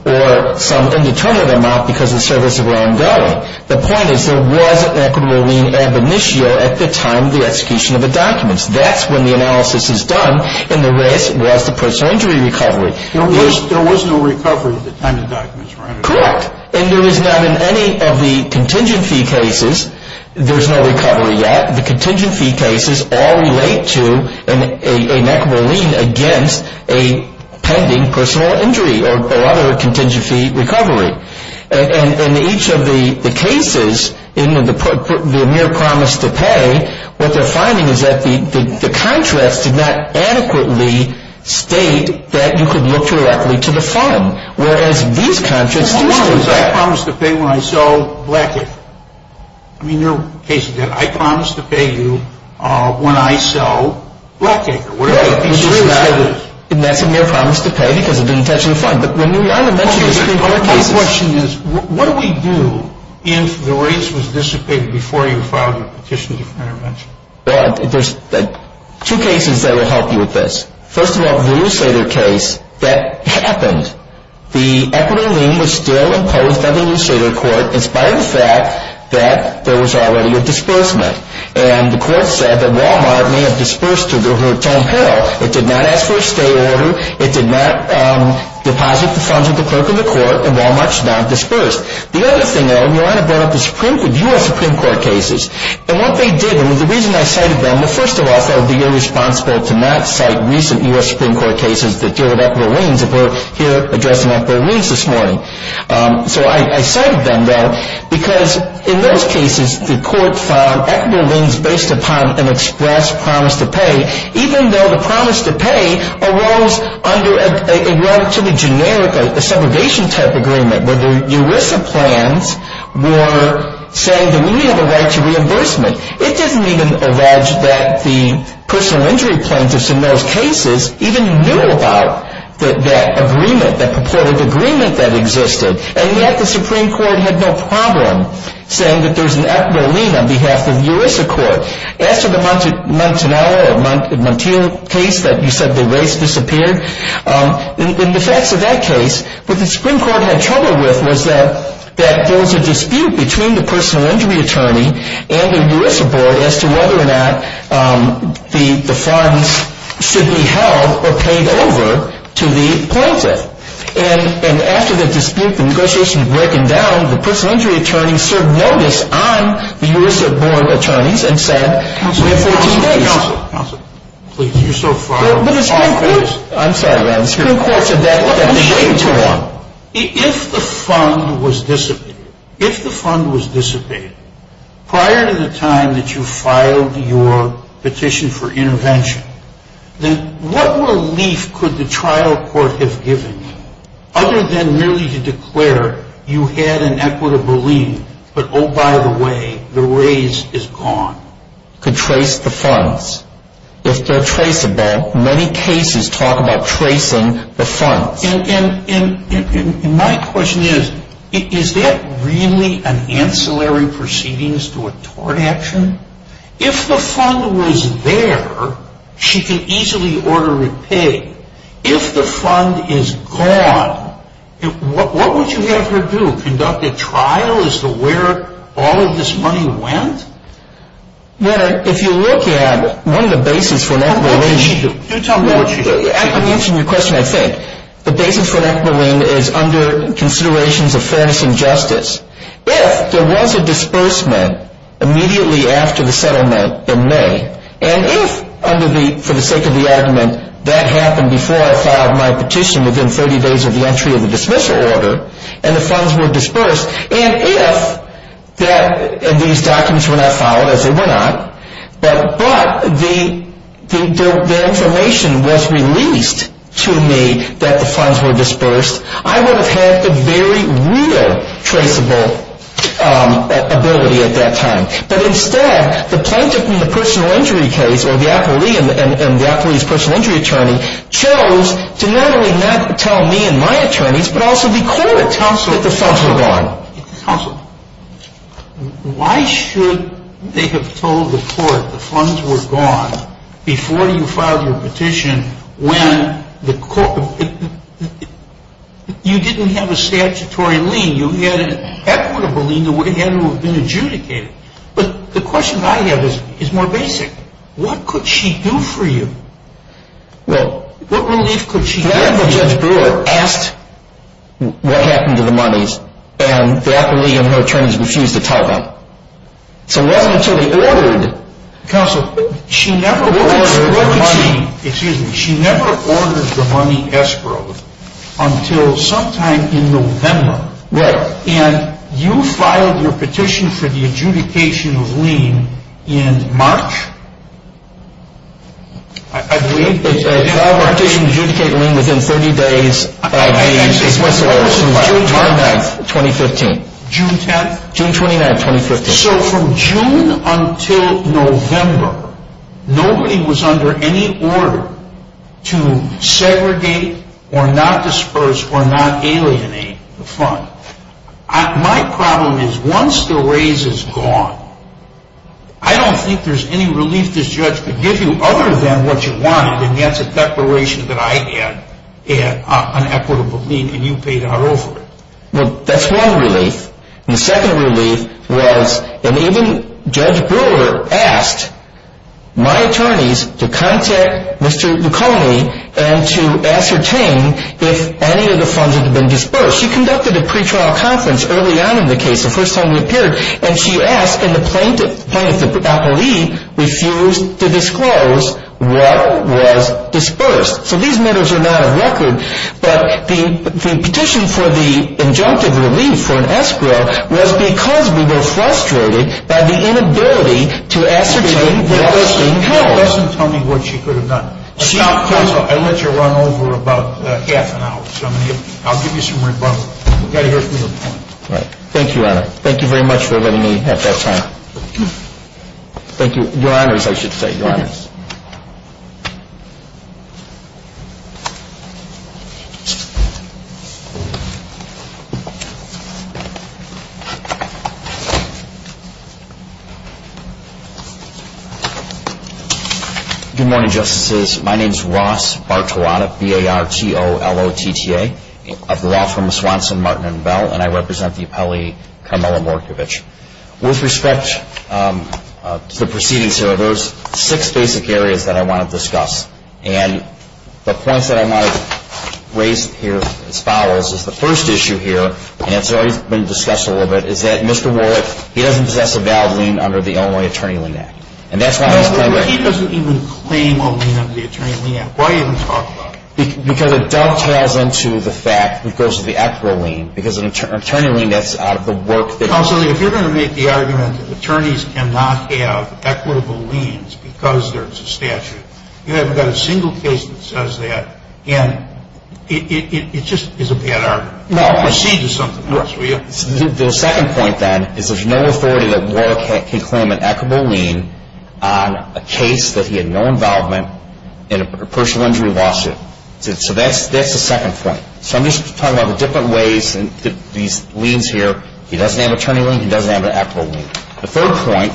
or some indeterminate amount because the service was ongoing. The point is there was an equitable lien ad vimitio at the time of the execution of the documents. That's when the analysis is done, and the rest was the post-sanctuary recovery. There was no recovery at the time of the documents, right? Correct. And there is not in any of the contingency cases, there's no recovery there. The contingency cases all relate to an equitable lien against a pending personal injury or other contingency recovery. And in each of the cases, in the mere promise to pay, what they're finding is that the contracts did not adequately state that you could look directly to the fund, whereas these contracts promised that. In your case again, I promised to pay you when I sell Blackacre. Yes, in your case, you mentioned your promise to pay because of the intention of the fund. The question is, what do we do if the ordinance was dissipated before you filed your petition for intervention? Well, there's two cases that will help you with this. First of all, the illustrator case that happened, the equitable lien was still imposed by the illustrator court. What inspires that, that there was already a disbursement. And the court said that Wal-Mart may have disbursed to the hotel panel. It did not ask for a stay order. It did not deposit the funds of the clerk in the court, and Wal-Mart's not disbursed. The other thing, though, we want to go to the U.S. Supreme Court cases. And what they did, I mean, the reason I cited them, well, first of all, they'll be irresponsible to not cite recent U.S. Supreme Court cases that deal with equitable liens, and we're here addressing equitable liens this morning. So I cited them, though, because in those cases, the court found equitable liens based upon an express promise to pay, even though the promise to pay arose under a relatively generic segregation-type agreement where the ERISA plans were saying they needed a right to reimbursement. It didn't even allege that the personal injury plaintiffs in those cases even knew about that agreement, or the agreement that existed, and yet the Supreme Court had no problem saying that there's an equitable lien on behalf of the ERISA court. After the Montanara case that you said the race disappeared, in the facts of that case, what the Supreme Court had trouble with was that there was a dispute between the personal injury attorney and the ERISA board as to whether or not the funds should be held or paid over to the plaintiff. And after the dispute and negotiations were broken down, the personal injury attorney served notice on the ERISA board of attorneys and said, If the fund was dissipated, prior to the time that you filed your petition for intervention, then what relief could the trial court have given you, other than merely to declare you had an equitable lien, but, oh, by the way, the race is gone, to trace the funds? If they're traceable, many cases talk about tracing the funds. And my question is, is that really an ancillary proceedings to a tort action? If the fund was there, she could easily order it paid. If the fund is gone, what would you have her do, conduct a trial as to where all of this money went? If you look at one of the basis for an equitable lien, I could answer your question, I think. The basis for an equitable lien is under considerations of fairness and justice. If there was a disbursement immediately after the settlement in May, and if, for the sake of the argument, that happened before I filed my petition, within 30 days of the entry of the dismissal order, and the funds were disbursed, and if these documents were not filed, as they were not, but the information was released to me that the funds were disbursed, I would have had a very real traceable ability at that time. But instead, the plaintiff in the personal injury case, or the appellee and the appellee's personal injury attorney, chose to not only not tell me and my attorneys, but also be clear to counsel that the funds were gone. Counsel, why should they have told the court the funds were gone before you filed your petition, when you didn't have a statutory lien? The question I have is more basic. What could she do for you? What relief could she get? What happened to the monies? And the appellee and her attorneys refused to tell her. Counsel, she never ordered the money escrowed until sometime in November. And you filed your petition for the adjudication lien in March? I believe that I filed my petition to adjudicate a lien within 30 days. June 29, 2015. June 29, 2015. And so from June until November, nobody was under any order to segregate or not disperse or not alienate the fund. My problem is, once the raise is gone, I don't think there's any relief this judge could give you other than what you want, and that's a declaration that I get, an equitable lien, and you pay that over. That's one relief. The second relief was that even Judge Brewer asked my attorneys to contact Mr. McCartney and to ascertain if any of the funds had been dispersed. She conducted a pretrial conference early on in the case, the first time we appeared, and she asked, and the plaintiff, the appellee, refused to disclose what was dispersed. So these matters are not a record, but the petition for the injunctive relief for an escrow was because we were frustrated by the inability to ascertain the origin of the funds. She doesn't tell me what she put it on. I'll let you run over about half an hour. I'll give you some rebuttal. Thank you, Your Honor. Thank you very much for letting me have that time. Thank you. Your Honors, I should say. Your Honors. Good morning, Justices. My name is Ross Bartolotta, B-A-R-T-O-L-L-O-T-T-A. I grew up from Swanson, Martin, and Bell, and I represent the appellee Carmela Morkovich. With respect to the proceedings here, there are six basic areas that I want to discuss, and the point that I want to raise here is as follows. The first issue here, and it's already been discussed a little bit, is that Mr. Warwick, he doesn't possess a valid lien under the Illinois Attorney Lien Act, and that's not a recommendation. He doesn't even claim a lien under the Attorney Lien Act. Why are you even talking about it? Because it does tie into the fact that it goes to the escrow lien, because an attorney lien, that's out of the work that's been done. Counsel, if you're going to make the argument that attorneys cannot have equitable liens because there's a statute, you haven't got a single case that says that, and it just is a bad argument. Well, the second point, then, is there's no authority that Warwick can claim an equitable lien on a case that he had no involvement in a personal injury lawsuit. So that's the second point. So I'm just talking about the different ways that these liens here, he doesn't have an attorney lien, he doesn't have an equitable lien. The third point,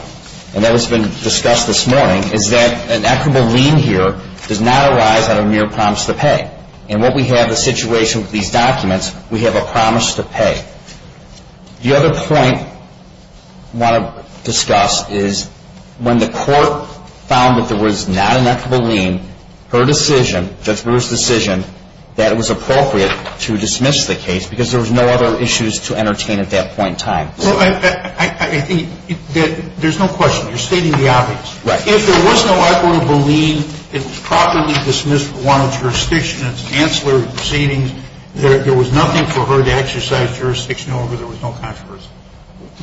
and that has been discussed this morning, is that an equitable lien here does not arise out of mere promise to pay, and what we have in the situation with these documents, we have a promise to pay. The other point I want to discuss is when the court found that there was not an equitable lien, her decision, Judge Brewer's decision, that it was appropriate to dismiss the case because there was no other issues to entertain at that point in time. Well, I think there's no question. You're stating the obvious. Right. If there was no equitable lien, it was properly dismissed for warrant of jurisdiction, it's an ancillary proceeding, there was nothing for her to exercise jurisdiction over, there was no controversy.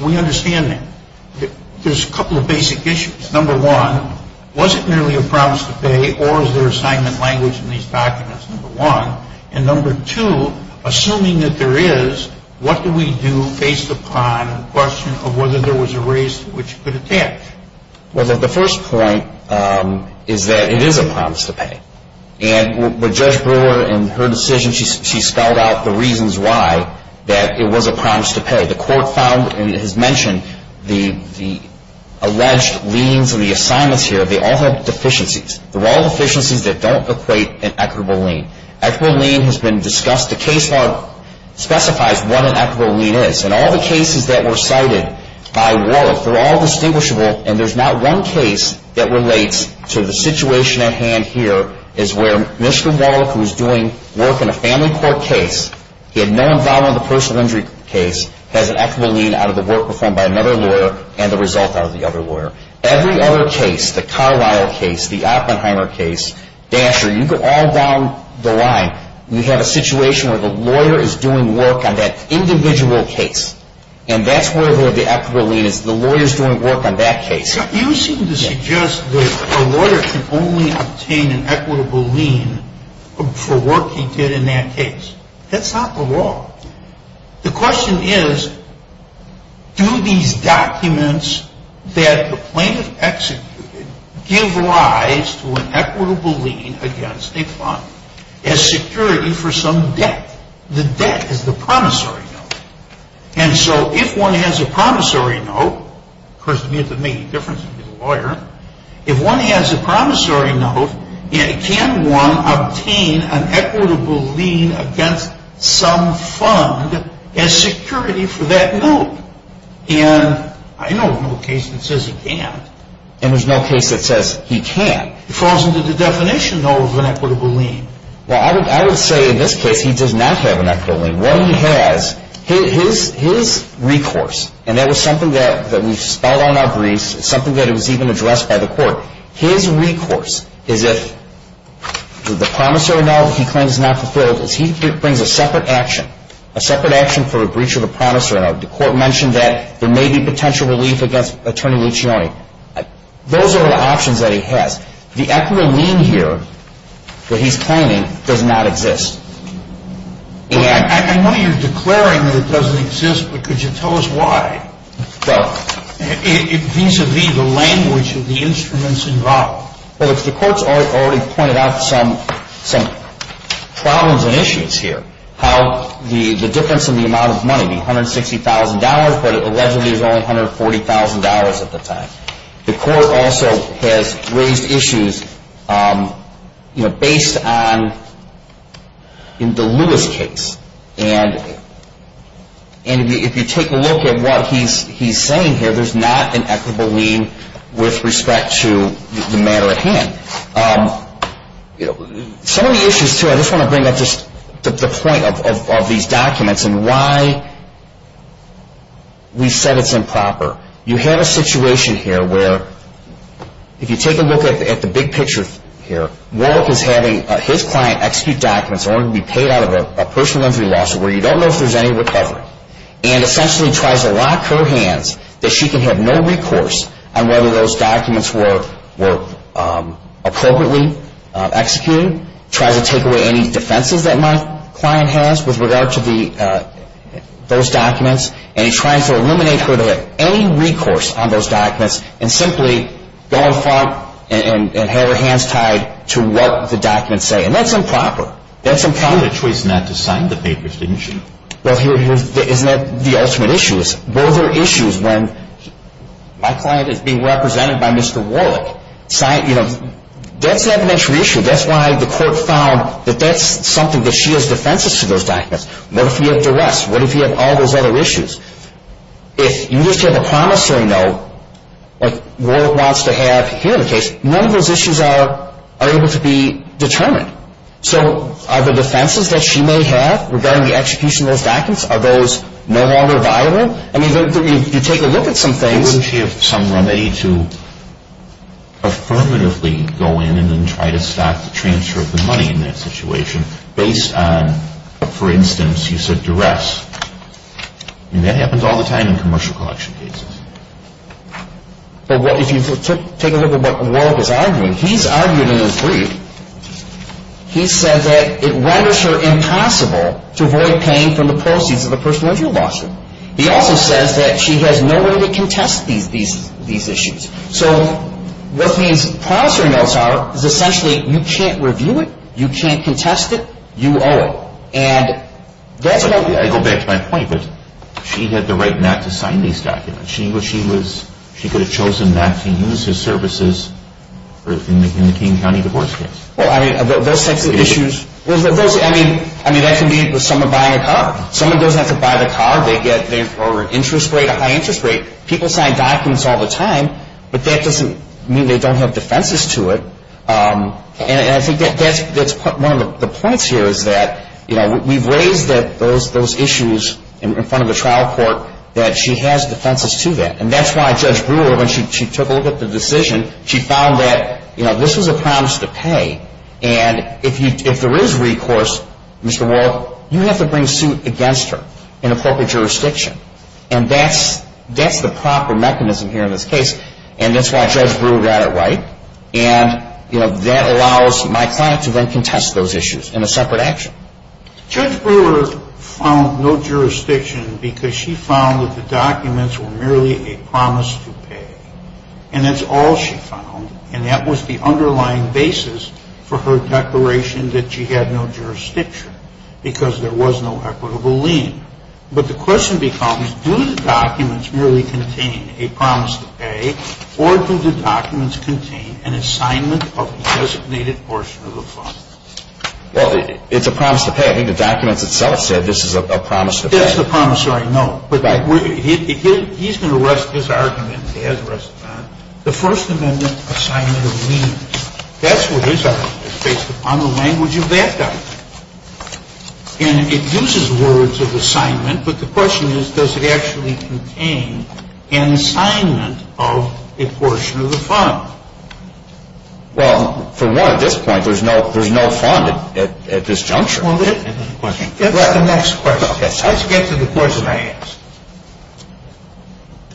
We understand that. There's a couple of basic issues. Number one, was it merely a promise to pay, or is there a segment language in these documents, number one? And number two, assuming that there is, what do we do based upon a question of whether there was a race which could affect? Well, the first point is that it is a promise to pay. And with Judge Brewer and her decision, she spelled out the reasons why that it was a promise to pay. The court found and has mentioned the alleged liens or the assignments here, they all have deficiencies. They're all deficiencies that don't equate an equitable lien. Equitable lien has been discussed. The case law specifies what an equitable lien is, and all the cases that were cited by Wallach were all distinguishable, and there's not one case that relates to the situation at hand here is where Mr. Wallach, who was doing work in a family court case, he had no involvement in the personal injury case, has an equitable lien out of the work performed by another lawyer and the result of the other lawyer. Every other case, the Carlyle case, the Oppenheimer case, Dasher, you go all down the line, you have a situation where the lawyer is doing work on that individual case, and that's where the equitable lien is, the lawyer is doing work on that case. You seem to suggest that a lawyer can only obtain an equitable lien for work he did in that case. That's not the law. The question is, do these documents that the plaintiff executed give rise to an equitable lien against a client as security for some debt? The debt is the promissory note. And so if one has a promissory note, of course, it doesn't make any difference if you're a lawyer, if one has a promissory note, can one obtain an equitable lien against some fund as security for that note? And I know of no case that says he can't. And there's no case that says he can't. It falls under the definition, though, of an equitable lien. Well, I would say in this case he does not have an equitable lien. What he has, his recourse, and that was something that we spelled on our brief, something that was even addressed by the court, his recourse is if the promissory note he claims is not fulfilled, if he brings a separate action, a separate action for a breach of a promissory note, the court mentioned that there may be potential relief against attorney Leach-Yoni, those are the options that he has. The equitable lien here that he's claiming does not exist. I know you're declaring that it doesn't exist, but could you tell us why? It needs to be the language of the instruments involved. Well, the court's already pointed out some problems and issues here. How the difference in the amount of money, the $160,000, but it allegedly was only $140,000 at the time. The court also has raised issues based on the Lewis case. And if you take a look at what he's saying here, there's not an equitable lien with respect to the matter at hand. Some of these issues, too, I just want to bring up just the point of these documents and why we set it improper. You have a situation here where if you take a look at the big picture here, Wolf is having his client execute documents that are going to be paid out of a personal injury lawsuit where you don't know if there's any recovery, and essentially tries to lock her hands that she can have no recourse on whether those documents were appropriately executed, tries to take away any defenses that my client has with regard to those documents, and he's trying to eliminate her to gain recourse on those documents and simply go to court and have her hands tied to what the documents say. And that's improper. That's improper. You had a choice not to sign the papers, didn't you? Well, isn't that the ultimate issue? Those are issues when my client is being represented by Mr. Warwick. That's an evidential issue. That's why the court found that that's something that she has defenses to those documents. What if he had duress? What if he had all those other issues? If you just have a promissory note that Warwick wants to have here, none of those issues are able to be determined. So are the defenses that she may have regarding the execution of those documents, are those no longer violent? I mean, you take a look at some things. Wouldn't she have some way to affirmatively go in and then try to transfer the money in that situation based on, for instance, you said duress. I mean, that happens all the time in commercial collection cases. But if you take a look at what Warwick is arguing, he's arguing in his brief, he says that it renders her impossible to avoid paying for the proceeds of a person where you lost her. He also says that she has no way to contest these issues. So what means promissory notes are essentially you can't review it, you can't contest it, you owe it. I go back to my point, but she had the right not to sign these documents. She could have chosen not to use his services in the King County divorce case. Well, I mean, those types of issues, I mean, that can be with someone buying a car. Someone doesn't have to buy the car. They get an interest rate, a high interest rate. People sign documents all the time, but that doesn't mean they don't have defenses to it. And I think that's one of the points here is that we've raised those issues in front of the trial court, that she has defenses to that. And that's why Judge Brewer, when she took a look at the decision, she found that this was a promise to pay. And if there is recourse, Mr. Warwick, you have to bring suit against her in a corporate jurisdiction. And that's the proper mechanism here in this case. And that's why Judge Brewer got it right. And that allows my client to then contest those issues in a separate action. Judge Brewer found no jurisdiction because she found that the documents were merely a promise to pay. And that's all she found, and that was the underlying basis for her declaration that she had no jurisdiction because there was no equitable lien. But the question becomes, do the documents really contain a promise to pay, or do the documents contain an assignment of the designated portion of the promise? Well, it's a promise to pay. I think the documents itself said this is a promise to pay. That's the promissory note. He's going to rest his argument. The First Amendment assignment of liens. That's what this argument is based upon, the language of that document. And it uses words of assignment, but the question is, does it actually contain an assignment of a portion of the fund? Well, for one, at this point, there's no fund at this juncture. Well, let's get to the next question. Let's get to the question I asked.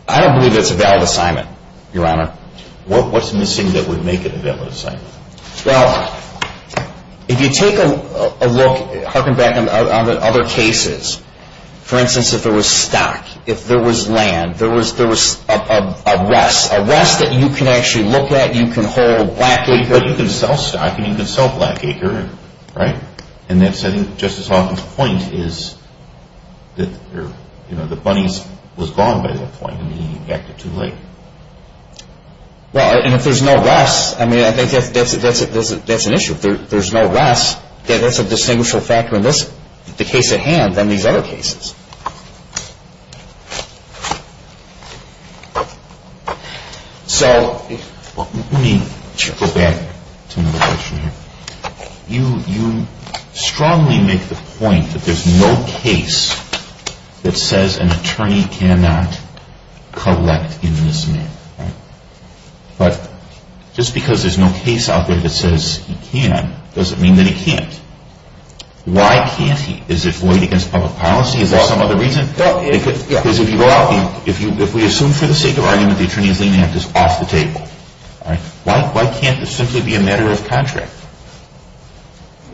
I don't believe it's a valid assignment, Your Honor. What's missing that would make it a valid assignment? Well, if you take a look, harking back on other cases, for instance, if there was stock, if there was land, if there was a rest, a rest that you can actually look at, you can hold black acres. Well, you can sell stock and you can sell black acres, right? And Justice Hawkins' point is that the money was gone by that point and he got there too late. Well, and if there's no rest, I mean, I think that's an issue. If there's no rest, then that's a distinguishable factor in this case at hand than these other cases. So, let me go back to another question here. You strongly make the point that there's no case that says an attorney cannot collect a misdemeanor, right? But just because there's no case out there that says he can, doesn't mean that he can't. Why can't he? Is it void against public policy? Is that some other reason? Because if you are, if we assume for the sake of argument that the attorney's demand is off the table, why can't this simply be a matter of contract?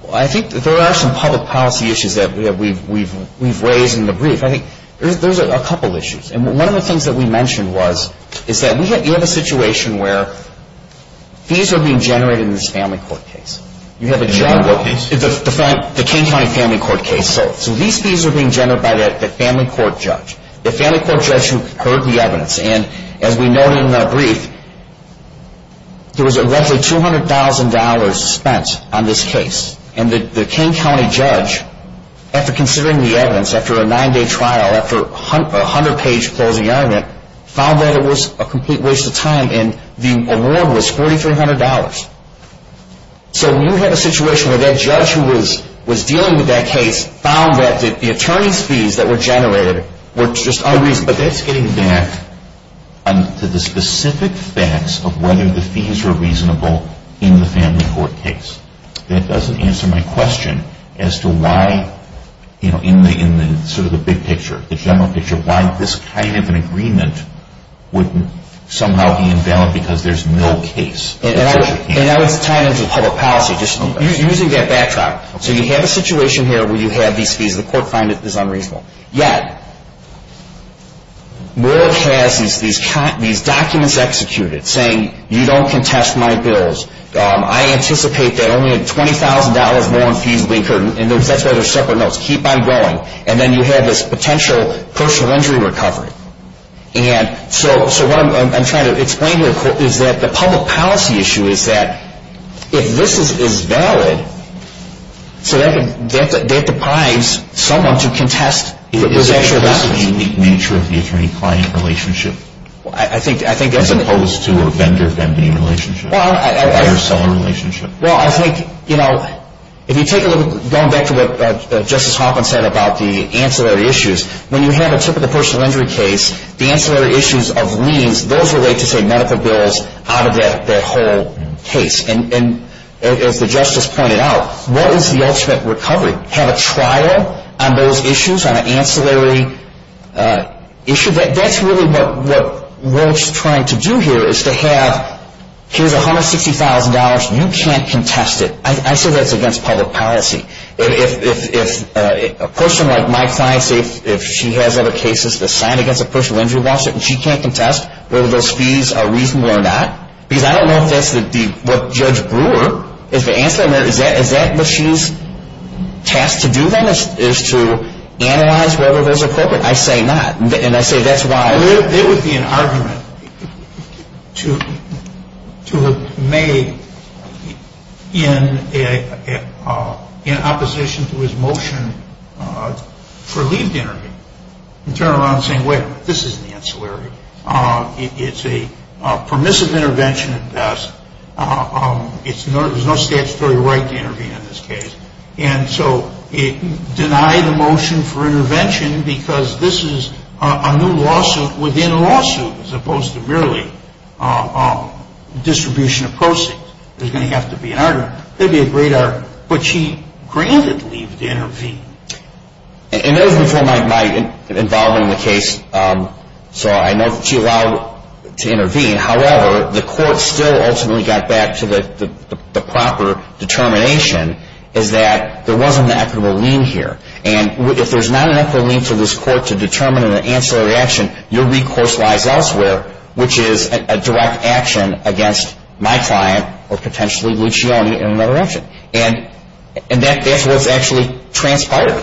Well, I think that there are some public policy issues that we've raised in the brief. I think there's a couple issues. And one of the things that we mentioned was that you have a situation where fees are being generated in this family court case. The King County Family Court case. So these fees are being generated by the family court judge. The family court judge who heard the evidence. And as we noted in that brief, there was roughly $200,000 spent on this case. And the King County judge, after considering the evidence, after a nine-day trial, after a hundred-page closing argument, found that it was a complete waste of time. And the award was $4,300. So you have a situation where that judge who was dealing with that case found that the attorney's fees that were generated were just unreasonable. But that's getting back to the specific facts of whether the fees were reasonable in the family court case. And it doesn't answer my question as to why, you know, in sort of the big picture, if you want this kind of an agreement with somehow being down because there's no case. And I don't tie into public policy. You're using that backside. So you have a situation here where you have these fees. The court finds it unreasonable. Yet, Moore has these documents executed saying you don't contest my bills. I anticipate that only a $20,000 loan fee is being incurred. And that's why they're separate notes. Keep on going. And then you have this potential personal injury recovery. And so what I'm trying to explain here is that the public policy issue is that if this is valid, so they have to prize someone to contest the possession of that. Is that the nature of the attorney-client relationship as opposed to a vendor-vendor relationship or a seller relationship? Well, I think, you know, if you take a look going back to what Justice Hoffman said about the ancillary issues, when you have a typical personal injury case, the ancillary issues of liens, those are ways to take medical bills out of that whole case. And as the Justice pointed out, what is the ultimate recovery? Have a trial on those issues, on an ancillary issue? That's really what Moore's trying to do here is to have, here's $160,000. You can't contest it. I say that's against public policy. If a person like my client, if she has other cases assigned against a personal injury lawsuit and she can't contest whether those fees are reasonable or not, because I don't know if that's what Judge Brewer is answering. Is that what she's tasked to do then is to analyze whether those are appropriate? I say not. And I say that's why. There would be an argument to have made in opposition to his motion for leave to intervene. In turn, I'm saying, well, this is an ancillary. It's a permissive intervention at best. There's no statutory right to intervene in this case. And so deny the motion for intervention because this is a new lawsuit within a lawsuit as opposed to merely distribution of proceeds. There's going to have to be an argument. There'd be a great argument. But she granted leave to intervene. In order for my involvement in the case, so I know she allowed to intervene. However, the court still ultimately got back to the proper determination is that there wasn't an affidavit of lien here. And if there's not an affidavit of lien to this court to determine an ancillary action, your recourse lies elsewhere, which is a direct action against my client or potentially Lucione in another action. And that's what's actually transpired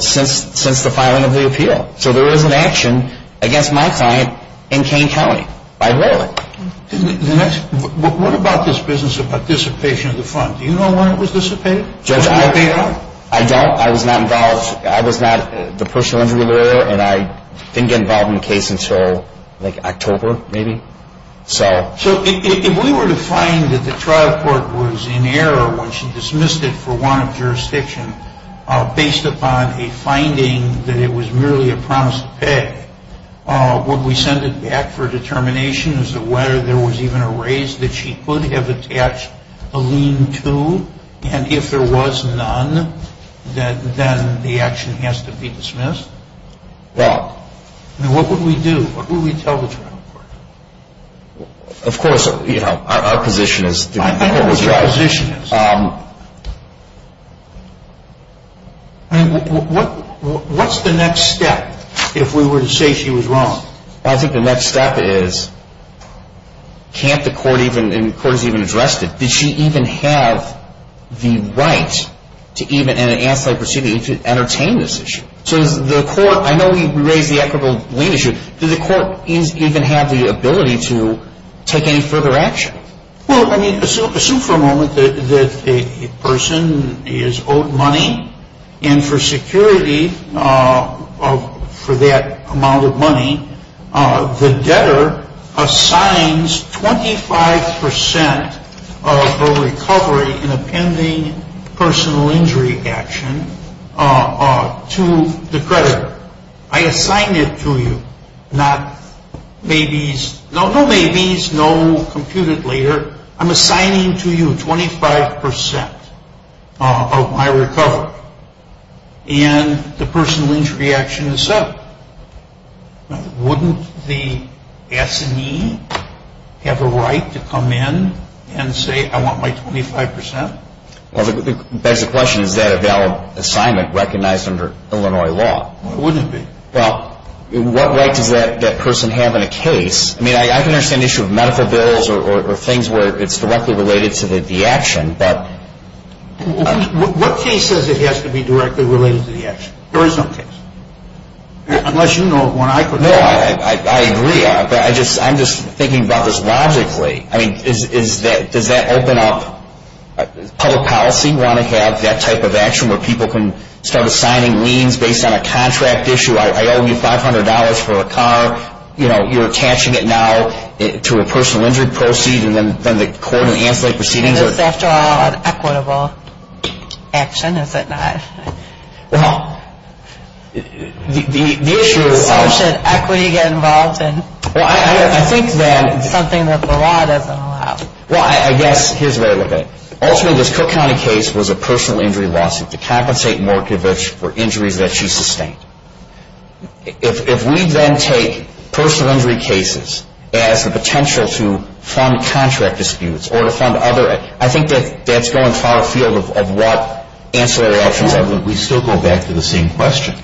since the filing of the appeal. So there is an action against my client in Kane County. I rule it. What about this business of dissipation of the funds? Do you know when it was dissipated? I was not involved. I was not the personal injury lawyer, and I didn't get involved in the case until October, maybe. So if we were to find that the trial court was in error when she dismissed it for want of jurisdiction based upon a finding that it was merely a promise to pay, would we send it back for determination as to whether there was even a raise that she could have attached a lien to? And if there was none, then the action has to be dismissed? Yeah. What would we do? What would we tell the trial court? Of course, our position is I mean, what's the next step if we were to say she was wrong? I think the next step is can't the court even address this? Does she even have the right in an anti-procedure to entertain this issue? So the court, I know we raised the equitable leadership. Does the court even have the ability to take any further action? Well, I mean, assume for a moment that a person is owed money, and for security for that amount of money, the debtor assigns 25% of her recovery in a pending personal injury action to the creditor. I assigned it to you. No ladies, no computed later. I'm assigning to you 25% of my recovery in the personal injury action itself. Wouldn't the S&E have a right to come in and say I want my 25%? That's the question. Is that a valid assignment recognized under Illinois law? It wouldn't be. Well, what right does that person have in a case? I mean, I can understand the issue of medical bills or things where it's directly related to the action. What case does it have to be directly related to the action? There is no case. Unless you know of one I could know of. No, I agree. I'm just thinking about this logically. I mean, does that open up public policy? Want to have that type of action where people can start assigning liens based on a contract issue? I owe you $500 for a car. You know, you're attaching it now to a personal injury proceed and then the court will answer the proceeding. This is, after all, an equitable action, is it not? Well, the issue of- Why should equity get involved in something that the law doesn't allow? Well, I guess here's the way I look at it. Ultimately, this Cook County case was a personal injury lawsuit to compensate Morkovich for injuries that she sustained. If we then take personal injury cases as the potential to fund contract disputes or to fund other- I think that's going far afield of what answer the question. We still go back to the same question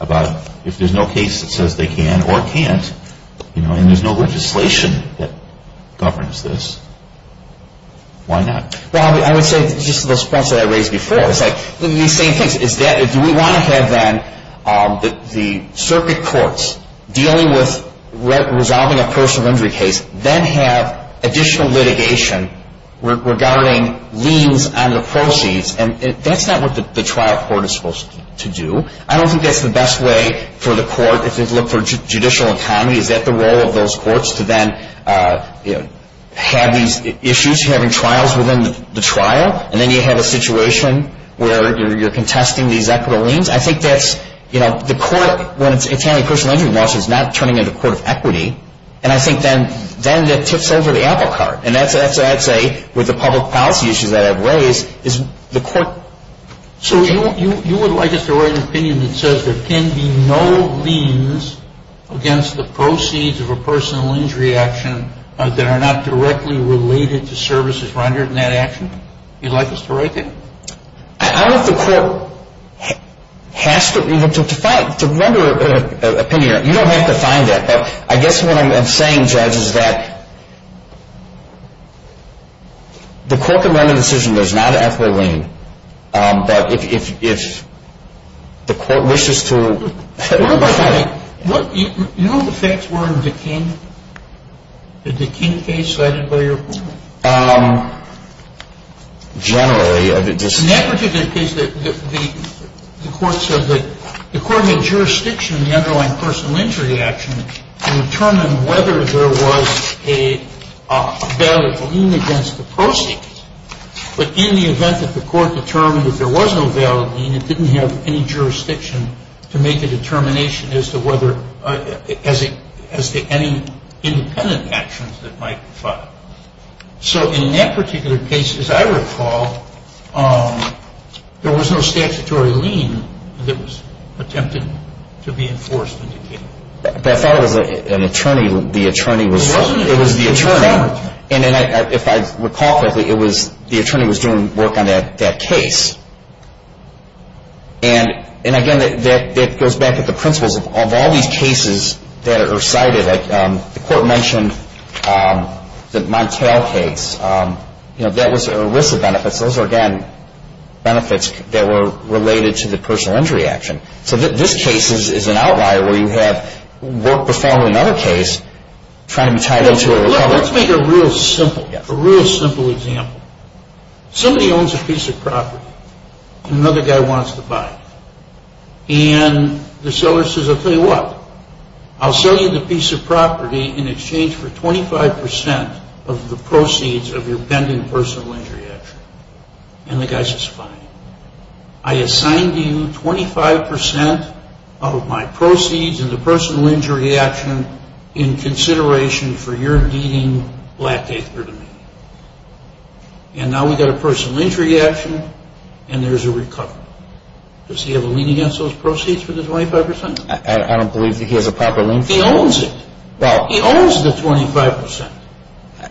about if there's no case that says they can or can't and there's no legislation that governs this, why not? Well, I would say, just in response to what I raised before, do we want to have then the circuit courts dealing with resolving a personal injury case then have additional litigation regarding liens on the proceeds? That's not what the trial court is supposed to do. I don't think that's the best way for the court to look for judicial autonomy. Is that the role of those courts to then have these issues, having trials within the trial, and then you have a situation where you're contesting these equitable liens? I think that the court, when it's a county personal injury lawsuit, is not turning into a court of equity. And I think then that tips over the apple cart. And that's what I'd say with the public policy issues that I've raised. So you would like us to write an opinion that says there can be no liens against the proceeds of a personal injury action that are not directly related to services rendered in that action? You'd like us to write that? I don't know if the court has to. To find a number of opinions, you don't have to find that. I guess what I'm saying, Judge, is that the court can run a decision. There's not an apple waiting. But if the court wishes to. Do you know what the effects were in the Dikini case? Generally. In that particular case, the court said that the court made a jurisdiction in the underlying personal injury action to determine whether there was a valid lien against the proceeds. But in the event that the court determined that there was no valid lien, it didn't have any jurisdiction to make a determination as to any independent actions that might be filed. So in that particular case, as I recall, there was no statutory lien that was attempted to be enforced in Dikini. That's out of an attorney. The attorney was the attorney. If I recall correctly, the attorney was doing work on that case. And, again, it goes back to the principles of all these cases that are cited. The court mentioned the Montel case. That was an ERISA benefit. Those are, again, benefits that were related to the personal injury action. So this case is an outlier where you have worked profoundly in another case Let's make a real simple example. Somebody owns a piece of property. Another guy wants to buy it. And the seller says, I'll tell you what. I'll sell you the piece of property in exchange for 25 percent of the proceeds of your pending personal injury action. And the guy says, fine. I assign you 25 percent of my proceeds in the personal injury action in consideration for your needing black paper to me. And now we've got a personal injury action, and there's a recovery. Does he have a lien against those proceeds for the 25 percent? I don't believe he has a proper lien. He owns it. He owns the 25 percent.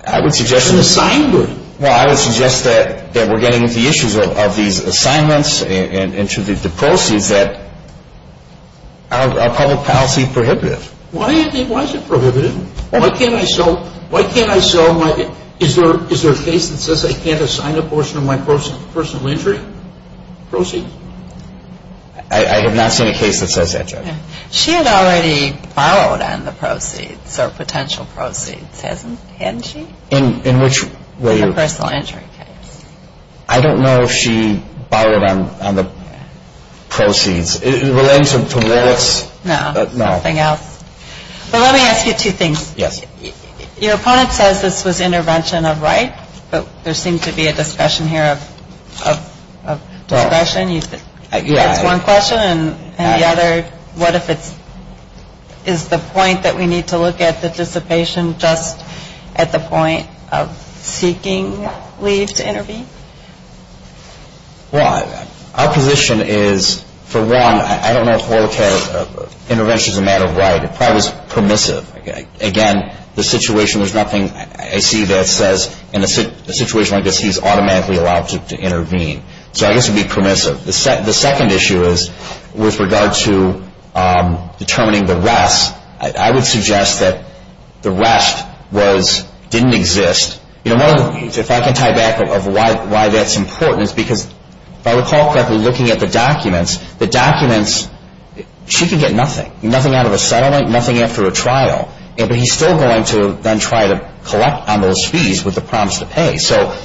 I would suggest that we're getting into the issues of these assignments and to the proceeds that are public policy prohibitive. Why is it prohibitive? Why can't I sell my... Is there a case that says I can't assign a portion of my personal injury proceeds? I have not seen a case that says that. She had already borrowed on the proceeds, or potential proceeds, hadn't she? In which way? In the personal injury case. I don't know if she borrowed on the proceeds. It relates to politics. No, nothing else. So let me ask you two things. Your opponent says this was intervention of rights, but there seems to be a discussion here of discretion. You asked one question, and the other, what if it's... Is the point that we need to look at the dissipation just at the point of seeking leave to intervene? Well, our position is, for one, I don't know if oral care intervention is a matter of right. It probably is permissive. Again, the situation, there's nothing I see that says in a situation like this, he's automatically allowed to intervene. So I guess it would be permissive. The second issue is with regard to determining the rest. I would suggest that the rest didn't exist. If I can tie back of why that's important is because, if I recall correctly, looking at the documents, the documents, she can get nothing, nothing out of a settlement, nothing after a trial. But he's still going to then try to collect on those fees with the promise to pay. So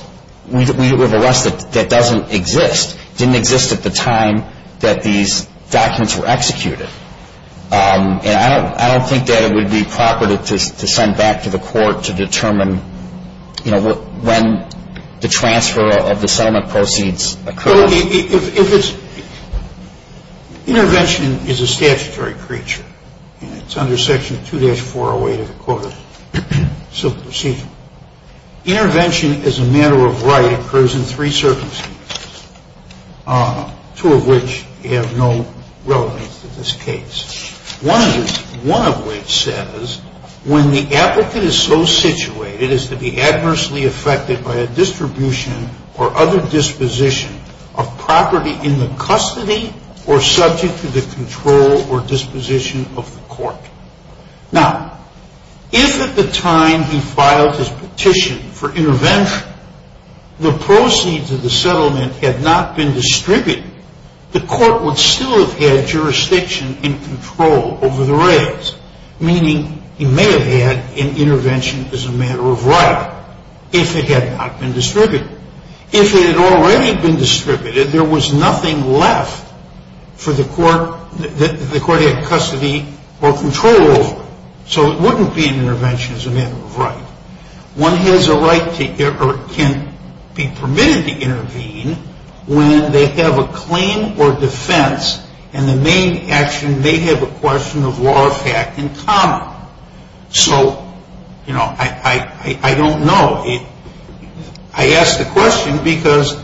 we would have a rest that doesn't exist, didn't exist at the time that these documents were executed. And I don't think that it would be proper to send back to the court to determine, you know, when the transfer of the settlement proceeds occur. Intervention is a statutory creature. It's under Section 2-408 of the Code of Civil Procedure. Intervention as a matter of right occurs in three circumstances, two of which have no relevance to this case. One of which says, when the applicant is so situated as to be adversely affected by a distribution or other disposition of property in the custody or subject to the control or disposition of the court. Now, if at the time he filed his petition for intervention, the proceeds of the settlement had not been distributed, the court would still have had jurisdiction and control over the rights, meaning he may have had an intervention as a matter of right if it had not been distributed. If it had already been distributed, there was nothing left for the court to have custody or control over. So it wouldn't be an intervention as a matter of right. One has a right or can be permitted to intervene when they have a claim or defense and the main action may have a question of law or fact in common. So, you know, I don't know. I ask the question because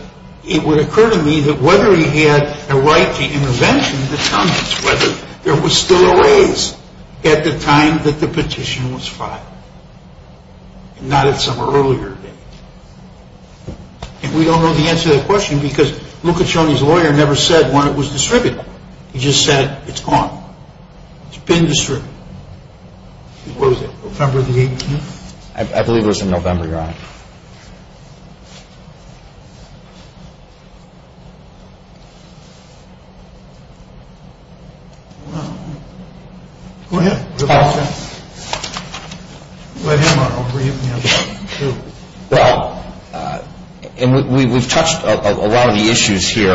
it would occur to me that whether he had a right to intervention determines whether there was still a raise at the time that the petition was filed, not at some earlier date. And we don't know the answer to that question because Luca Cioni's lawyer never said when it was distributed. He just said it's gone. It's been distributed. What was it, November the 18th? I believe it was in November, Your Honor. Well, we've touched a lot of the issues here.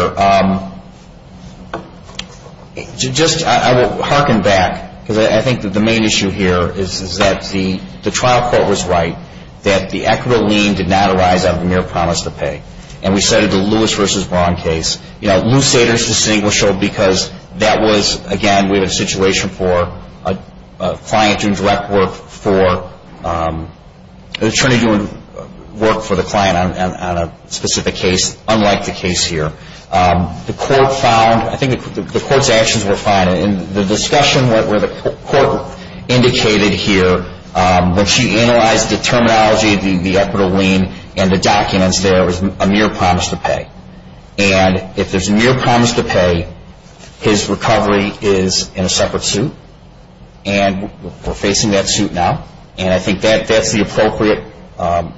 Just, I will harken back because I think that the main issue here is that the trial court was right, that the equitable lien did not exist. And we cited the Lewis v. Vaughn case. You know, loose daters distinguishable because that was, again, we had a situation for a client doing direct work for an attorney doing work for the client on a specific case, unlike the case here. The court found, I think the court's actions were fine. And the discussion that the court indicated here, when she analyzed the terminology, the equitable lien and the documents, there was a mere promise to pay. And if there's a mere promise to pay, his recovery is in a separate suit, and we're facing that suit now. And I think that's the appropriate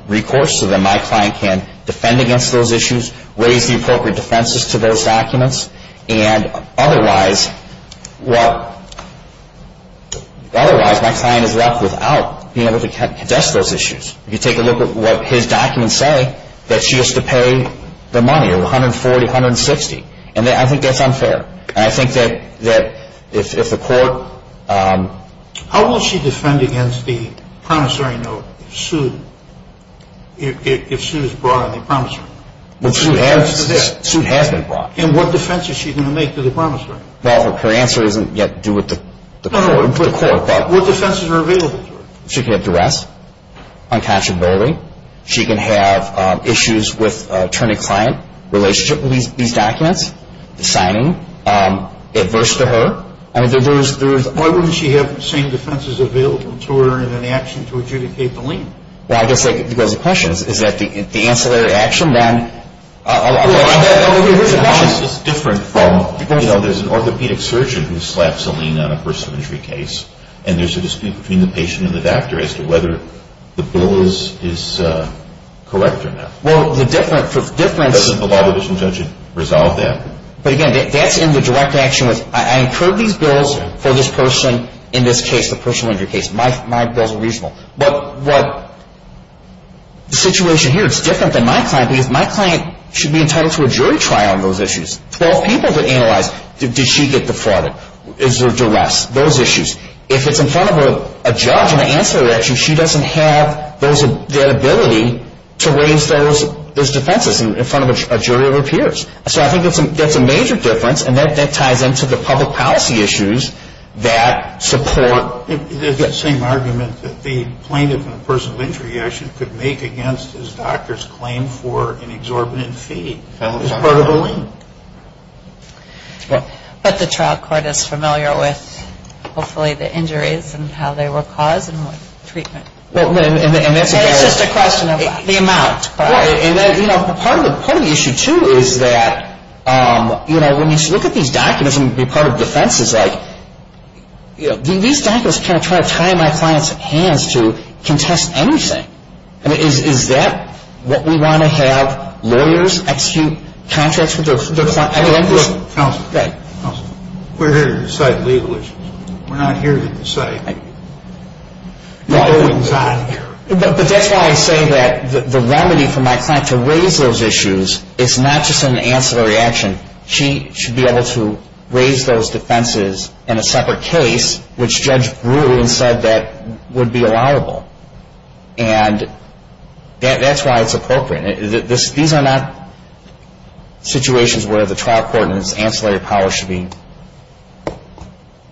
recourse so that my client can defend against those issues, raise the appropriate defenses to those documents. And otherwise, well, otherwise my client is left without being able to address those issues. If you take a look at what his documents say, that she has to pay the money, $140, $160. And I think that's unfair. And I think that if the court... How will she defend against the promissory note if suit is brought on the promissory note? Well, suit has been brought. And what defense is she going to make to the promissory note? Well, her answer doesn't get to do with the court. What defenses are available to her? She can have duress, uncatchability. She can have issues with attorney-client relationship with these documents, signing, adverse to her. Why wouldn't she have the same defenses available to her in an action to adjudicate the lien? Well, I guess that goes to the question. If that's the answer to the action, then... Well, I guess the question is different from, you know, there's an orthopedic surgeon who slaps a lien on a personal injury case, and there's a dispute between the patient and the doctor as to whether the bill is correct or not. Well, the difference... There's a law that doesn't resolve that. But, again, that's in the direct action. I incurred these bills for this person in this case, the personal injury case. My bills are reasonable. Well, the situation here is different than my client, because my client should be entitled to a jury trial on those issues. Twelve people to analyze, did she get the fraud? Is there duress? Those issues. If it's in front of a judge in the answer to the action, she doesn't have the ability to raise those defenses in front of a jury of her peers. So I think that's a major difference, and that ties into the public policy issues that support... There's that same argument that the plaintiff in a personal injury issue could make against his doctor's claim for an exorbitant fee as part of a lien. But the trial court is familiar with, hopefully, the injuries and how they were caused and what treatment... It's just a question of the amount. Part of the issue, too, is that, you know, do these doctors try to tie my client's hands to contest anything? I mean, is that what we want to have? Lawyers execute contracts with the plaintiff? Counsel, we're here to decide the legal issues. We're not here to decide... But that's why I say that the remedy for my client to raise those issues, if not just in the answer to the reaction, she should be able to raise those defenses in a separate case, which Judge Brewer said that would be liable. And that's why it's appropriate. These are not situations where the trial court and the ancillary power should be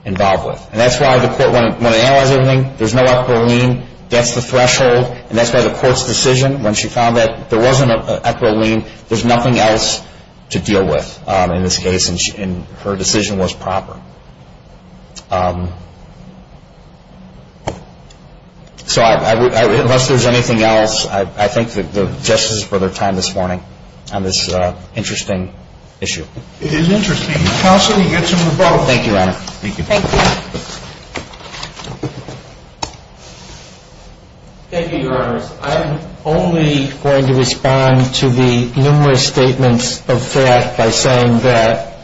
involved with. And that's why the court, when they analyze everything, there's no equitable lien. That's the threshold. And that's why the court's decision, when she found that there wasn't an equitable lien, there's nothing else to deal with in this case, and her decision was proper. So unless there's anything else, I thank the justices for their time this morning on this interesting issue. It is interesting. Counsel, you get to move on. Thank you, Ron. Thank you. Thank you. Thank you, Your Honor. I'm only going to respond to the numerous statements of fact by saying that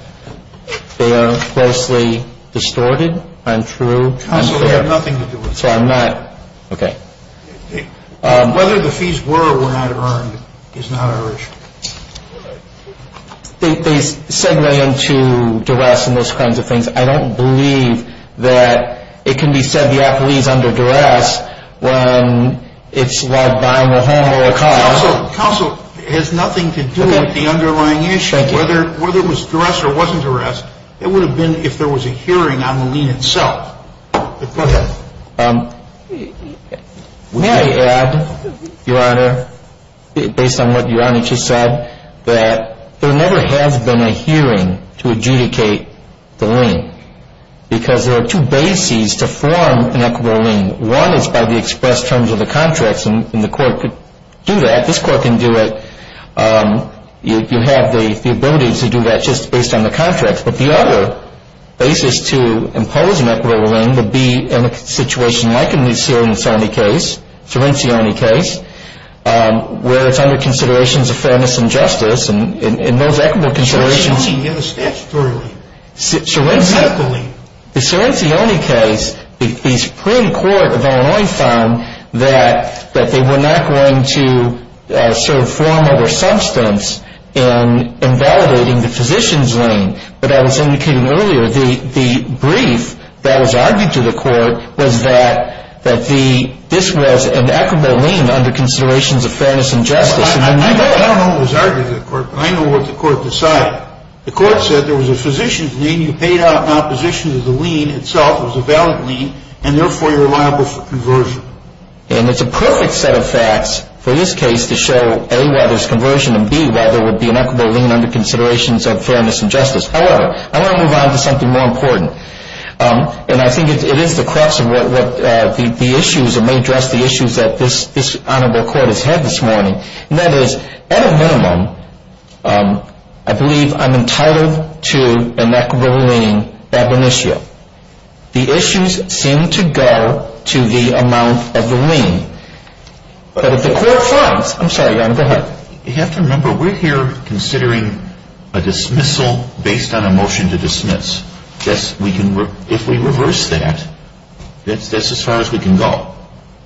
they are falsely distorted and true. So they have nothing to do with it. So I'm not. Okay. Whether the fees were or were not earned is not our issue. They segue into duress and those kinds of things. I don't believe that it can be said the appeal is under duress when it's like buying a home or a car. Counsel, it has nothing to do with the underlying issue. Thank you. Whether it was duress or wasn't duress, it would have been if there was a hearing on the lien itself. Go ahead. May I add, Your Honor, based on what Your Honor just said, that there never has been a hearing to adjudicate the lien because there are two bases to form an equitable lien. One is by the express terms of the contracts, and the court could do that. This court can do it. You have the ability to do that just based on the contracts. But the other basis to impose an equitable lien would be in a situation like in the Selencioni case, where it's under considerations of fairness and justice, and in those equitable considerations. You have to step forward. Exactly. The Selencioni case, the Supreme Court of Illinois found that they were not going to sort of form other substance in invalidating the physician's lien. But as was indicated earlier, the brief that was argued to the court was that this was an equitable lien under considerations of fairness and justice. I don't know what was argued to the court, but I know what the court decided. The court said there was a physician's lien you paid out in opposition to the lien itself. It was a valid lien, and therefore you're liable for conversion. It's a perfect set of facts for this case to show A, whether it's conversion, and B, whether it would be an equitable lien under considerations of fairness and justice. However, I want to move on to something more important. I think it is a question that may address the issues that this honorable court has had this morning. That is, at a minimum, I believe I'm entitled to an equitable lien at the initial. The issues seem to go to the amount of the lien. But if the court finds, I'm sorry, go ahead. You have to remember, we're here considering a dismissal based on a motion to dismiss. If we reverse that, that's as far as we can go.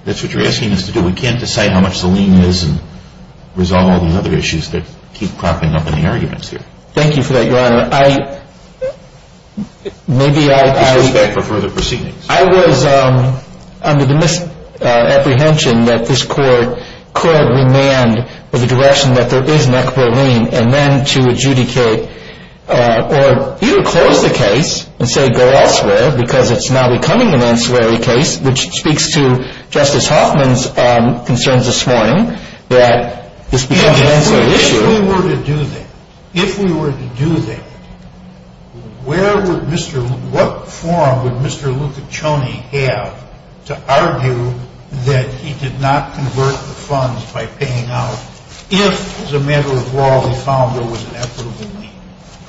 That's what you're asking us to do. We can't decide how much the lien is and resolve all the other issues that keep cropping up in the arguments here. Thank you for that, Your Honor. I was under the misapprehension that this court could remand for the direction that there is an equitable lien and then to adjudicate or either close the case and say go elsewhere because it's not becoming an ancillary case, which speaks to Justice Hoffman's concerns this morning that this becomes an ancillary issue. If we were to do that, if we were to do that, where would Mr. What form would Mr. Lucaconi have to argue that he did not convert the funds by paying out if, as a matter of law, we found there was an equitable lien?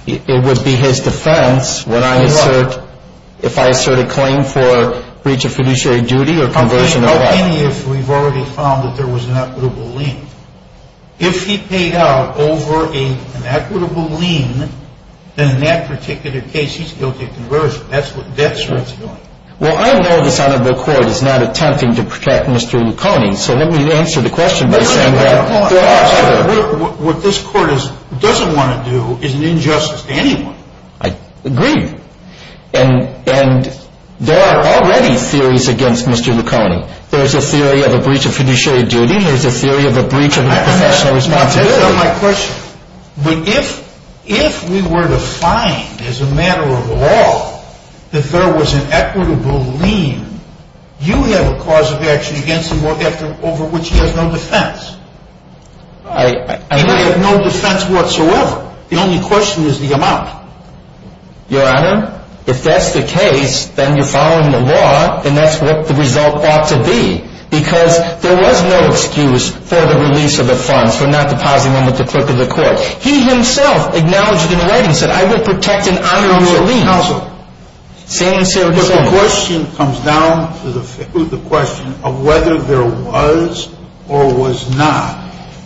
It would be his defense when I insert, if I insert a claim for breach of fiduciary duty or conversion. The thing is, we've already found that there was an equitable lien. If he paid out over an equitable lien, then in that particular case, he still did conversion. That's what death threats are. Well, I know this honorable court is not attempting to protect Mr. Lucaconi, so let me answer the question by saying that. What this court doesn't want to do is an injustice to anyone. I agree. And there are already theories against Mr. Lucaconi. There's a theory of a breach of fiduciary duty. There's a theory of a breach of conversion. That's not my question. If we were to find, as a matter of law, that there was an equitable lien, you have a cause of action against him or against him over which you have no defense. I have no defense whatsoever. The only question is the amount. Your Honor, if that's the case, then you're following the law, and that's what the result ought to be, because there was no excuse for the release of the funds, for not depositing them at the foot of the court. He himself acknowledged in writing, said, I will protect and honor the lien. Counsel, can you answer this question? The question comes down to the question of whether there was or was not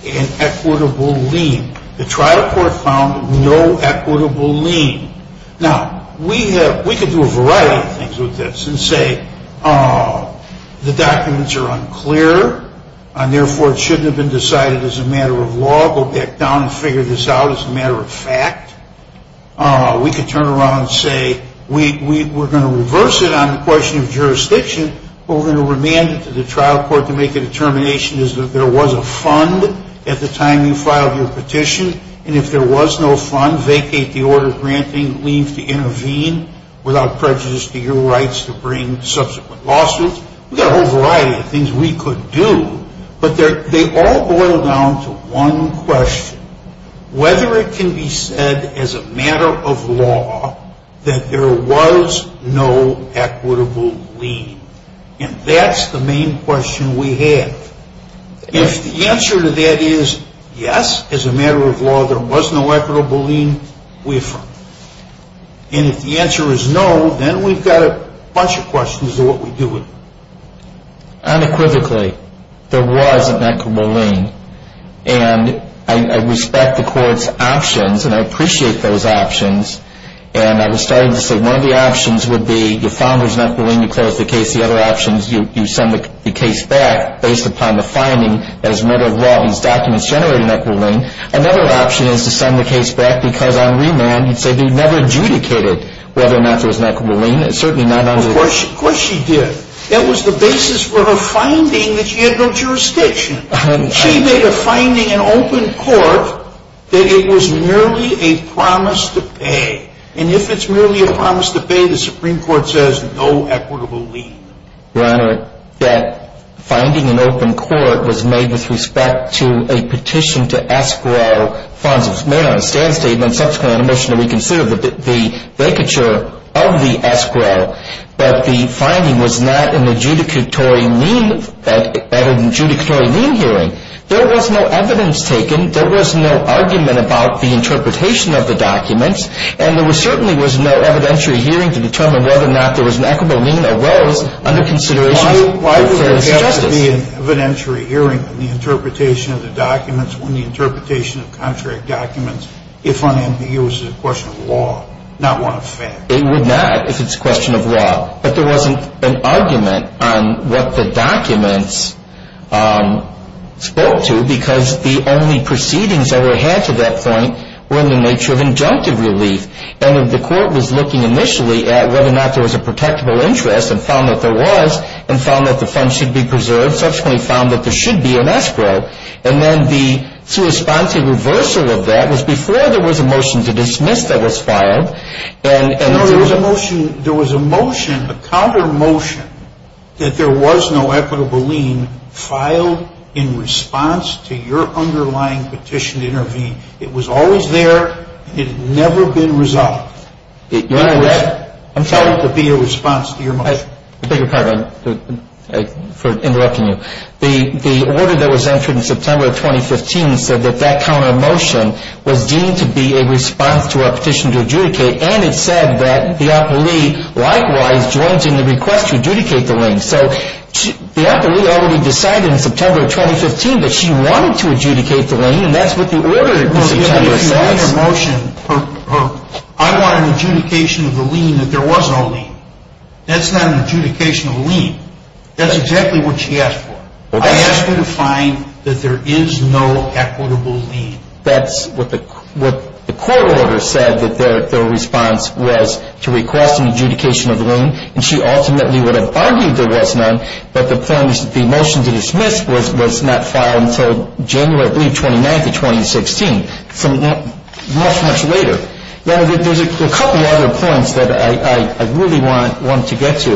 an equitable lien. The trial court found no equitable lien. Now, we could do a variety of things with this and say the documents are unclear, and therefore it shouldn't have been decided as a matter of law. Go back down and figure this out as a matter of fact. We could turn around and say we're going to reverse it on the question of jurisdiction, but we're going to remand it to the trial court to make the determination that there was a fund at the time you filed your petition, and if there was no fund, vacate the order granting lien to intervene without prejudice to your rights to bring subsequent lawsuits. We've got a whole variety of things we could do, but they all boil down to one question, whether it can be said as a matter of law that there was no equitable lien. And that's the main question we had. If the answer to that is yes, as a matter of law, there was no equitable lien waiver, and if the answer is no, then we've got a bunch of questions of what we do with it. Unequivocally, there was an equitable lien, and I respect the court's options, and I appreciate those options, and I was starting to say one of the options would be you found there was an equitable lien, you closed the case, the other option is you send the case back based upon the finding that as a matter of law these documents generate an equitable lien. Another option is to send the case back because on remand you'd say they never adjudicated whether or not there was an equitable lien. It's certainly not under the law. Of course she did. That was the basis for her finding that she had no jurisdiction. She made a finding in open court that it was merely a promise to pay, and if it's merely a promise to pay, the Supreme Court says no equitable lien. Your Honor, that finding in open court was made with respect to a petition to escrow found to have been made on a stand statement and subsequently motioned to reconsider the vacature of the escrow, but the finding was not an adjudicatory lien hearing. There was no evidence taken. There was no argument about the interpretation of the documents, and there certainly was no evidentiary hearing to determine whether or not there was an equitable lien or was under consideration for adjudication. Why would there have to be an evidentiary hearing for the interpretation of the documents when the interpretation of the contract documents, if I'm going to use it, is a question of law, not one of fact? It would not if it's a question of law. But there wasn't an argument on what the documents spoke to because the only proceedings that were had to that point were in the nature of injunctive relief, and if the court was looking initially at whether or not there was a protectable interest and found that there was and found that the funds should be preserved, subsequently found that there should be an escrow, and then the corresponding reversal of that was before there was a motion to dismiss that was filed. There was a motion, a counter motion, that there was no equitable lien filed in response to your underlying petition to intervene. It was always there. It had never been resolved. I'm sorry to be your response to your mic. The order that was entered in September of 2015 said that that counter motion was deemed to be a response to our petition to adjudicate, and it said that the appellee, likewise, joins in the request to adjudicate the lien. So, the appellee already decided in September of 2015 that she wanted to adjudicate the lien, and that's what the order was intended to be. I want an adjudication of a lien that there was no lien. That's not an adjudication of a lien. That's exactly what she asked for. I asked her to find that there is no equitable lien. That's what the court order said that the response was to request an adjudication of a lien, and she ultimately would have argued there was none, but the motion to dismiss was not filed until January 29, 2016, much, much later. There's a couple other points that I really want to get to.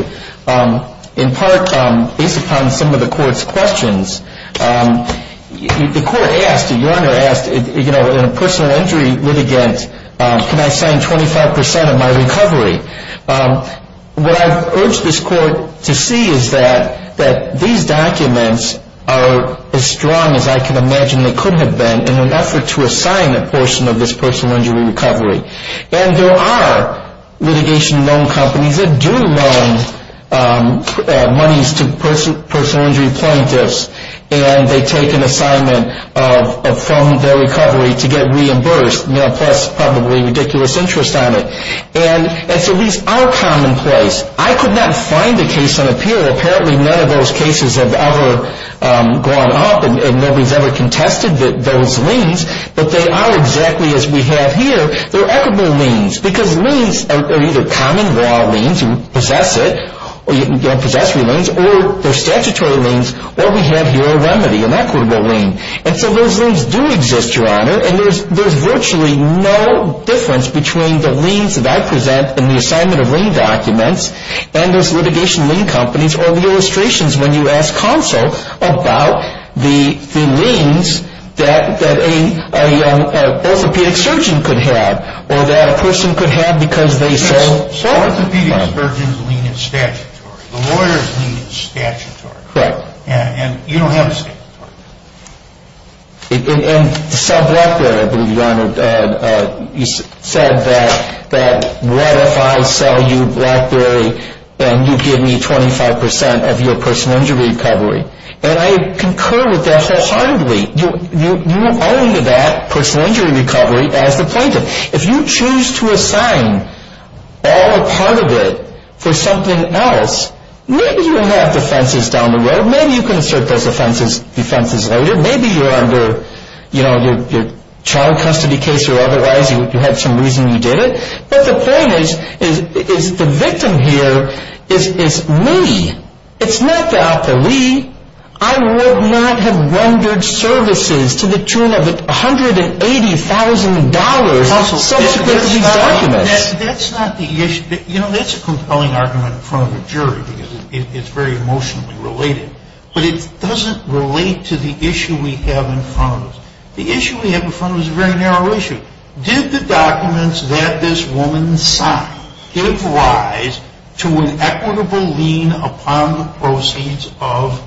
In part, based upon some of the court's questions, the court asked, the Your Honor asked, you know, in a personal injury litigant, can I sign 25% of my recovery? What I would urge this court to see is that these documents are as strong as I can imagine they could have been in order to assign a portion of this personal injury recovery, and there are litigation loan companies that do loan monies to personal injury plaintiffs, and they take an assignment from their recovery to get reimbursed. Now, that's probably a ridiculous interest on it, and so these are commonplace. I could not find a case on appeal. Apparently, none of those cases have ever gone up, and we've never contested those liens, but they are exactly as we have here. They're equitable liens because liens are either common, raw liens, you possess it, or you possess your liens, or they're statutory liens, or we have here a remedy, an equitable lien. And so those liens do exist, Your Honor, and there's virtually no difference between the liens that I present in the assignment of lien documents and those litigation lien companies or the illustrations when you ask counsel about the liens that an orthopedic surgeon could have or that a person could have because they say so. An orthopedic surgeon's lien is statutory. A lawyer's lien is statutory. Correct. And you don't have a statutory lien. And Sam Blackberry, I believe, Your Honor, said that what if I sell you Blackberry and you give me 25% of your personal injury recovery? And I concur with that wholeheartedly. You are under that personal injury recovery as the plaintiff. If you choose to assign all or part of it for something else, maybe you don't have defenses down the road. Maybe you can assert those defenses later. Maybe you're under a child custody case or otherwise. You had some reason you did it. But the point is the victim here is me. It's not Dr. Lee. I would not have rendered services to the tune of $180,000 for such a dirty document. That's not the issue. You know, that's a compelling argument in front of a jury because it's very emotionally related. But it doesn't relate to the issue we have in front of us. The issue we have in front of us is a very narrow issue. Did the documents that this woman signed stabilize to an equitable lien upon the proceeds of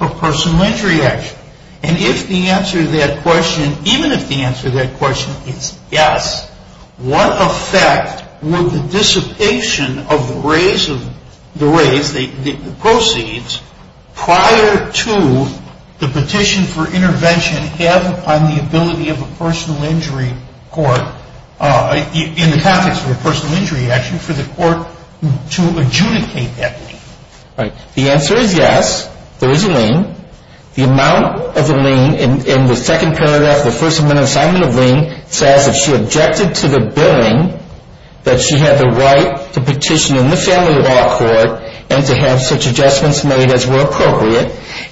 a personal injury action? And if the answer to that question, even if the answer to that question is yes, what effect would the dissipation of the proceeds prior to the petition for intervention have on the ability of a personal injury court, in the context of a personal injury action, for the court to adjudicate that lien? The answer is yes. There is a lien. The amount of the lien in the second paragraph of the First Amendment Assignment of Lien says that she objected to the billing, that she had the right to petition in the family law court and to have such adjustments made as were appropriate.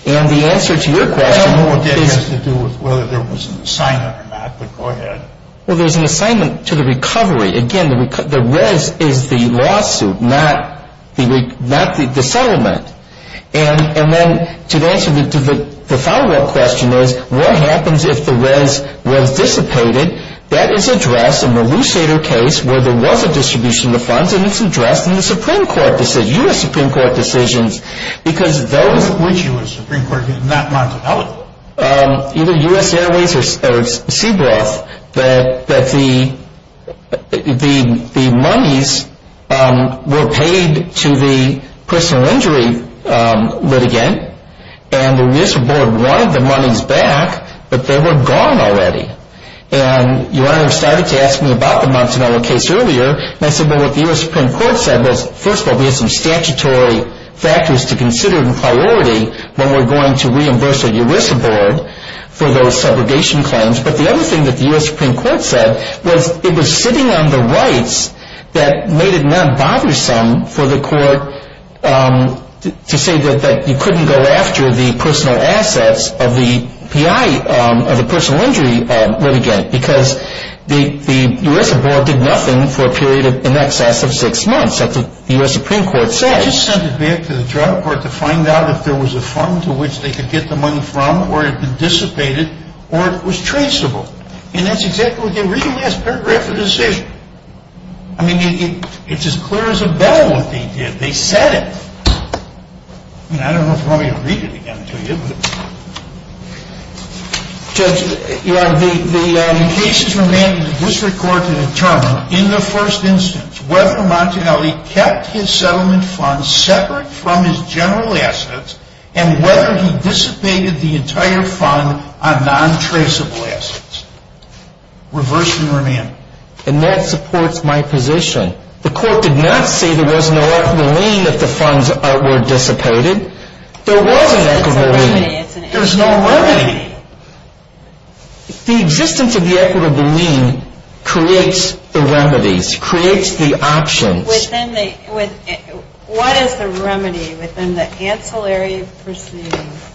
And the answer to your question is yes. How would that have anything to do with whether there was an assignment or not that the court had? Well, there's an assignment to the recovery. Again, the red is the lawsuit, not the settlement. And then to answer the follow-up question is, what happens if the reds were dissipated? That is addressed in the Lucida case where there was a distribution of funds, and it's addressed in the Supreme Court decisions, U.S. Supreme Court decisions, because those which the U.S. Supreme Court has not marked out, either U.S. Airways or Seabrook, that the monies were paid to the personal injury litigant, and the ERISA board wanted the monies back, but they were gone already. And your Honor started to ask me about the Montanella case earlier, and I said, well, what the U.S. Supreme Court said was, first of all, there are some statutory factors to consider in priority when we're going to reimburse the ERISA board for those subrogation claims. But the other thing that the U.S. Supreme Court said was it was sitting on the rights that made it non-bothersome for the court to say that you couldn't go after the personal assets of the P.I., of the personal injury litigant, because the ERISA board did nothing for a period in excess of six months. That's what the U.S. Supreme Court says. They just sent it back to the trial court to find out if there was a fund to which they could get the money from, or it had been dissipated, or it was traceable. And that's exactly what they did. It really has perfect recognition. I mean, it's as clear as a bell what they did. They said it. I don't know if you want me to read it again to you, but... Judge, in the case of the man who was recorded and determined, in the first instance, whether Montanelli kept his settlement funds separate from his general assets and whether he dissipated the entire fund on non-traceable assets. Reverse and remain. And that supports my position. The court did not say there was no equitable lien if the funds were dissipated. There was an equitable lien. There's no remedy. The existence of the equitable lien creates the remedies, creates the option. What is the remedy within the ancillary proceedings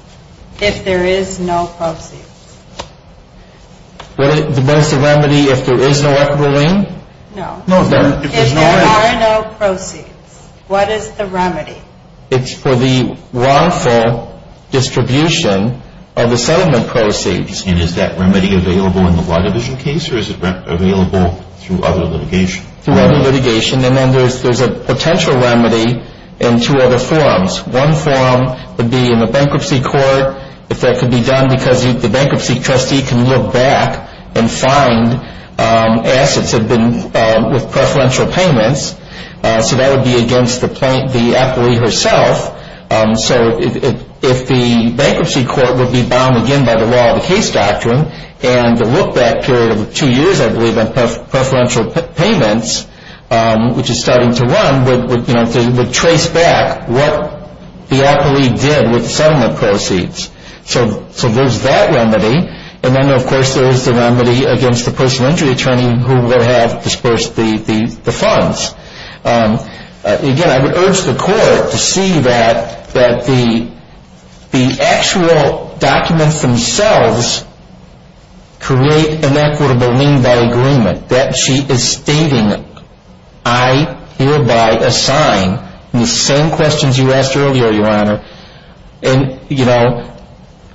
if there is no proceeds? What is the remedy if there is no equitable lien? No. If there are no proceeds, what is the remedy? It's for the wrongful distribution of the settlement proceeds. And is that remedy available in the wide division case, or is it available through other litigation? Through other litigation. And then there's a potential remedy in two other forms. One form would be in the bankruptcy court. If that could be done because the bankruptcy trustee can look back and find assets with preferential payments, so that would be against the appellee herself. So if the bankruptcy court would be bound again by the law of the case doctrine and look back for two years, I believe, on preferential payments, which is starting to run, they would trace back what the appellee did with settlement proceeds. So there's that remedy. And then, of course, there's the remedy against the personal injury attorney who will have disbursed the funds. Again, I would urge the court to see that the actual documents themselves create an equitable lien by agreement, that she is stating, I hereby assign, in the same questions you asked earlier, Your Honor, and, you know,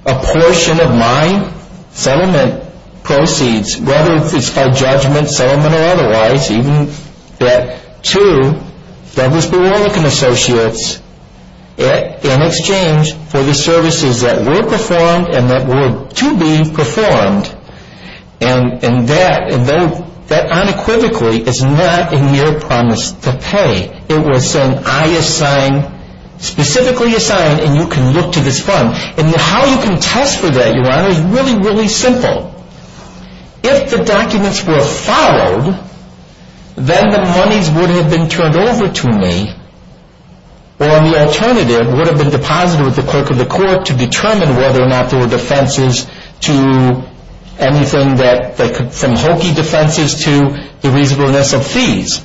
a portion of my settlement proceeds, whether it's by judgment, settlement or otherwise, even that to Federalist Bureaucratic Associates in exchange for the services that were performed and that were to be performed. And that unequivocally is not a mere promise to pay. It was saying, I assign, specifically assign, and you can look to this fund. And how you can test for that, Your Honor, is really, really simple. If the documents were followed, then the money would have been turned over to me, or the alternative would have been deposited with the clerk of the court to determine whether or not there were defenses to anything that could, from hokey defenses to the reasonableness of fees.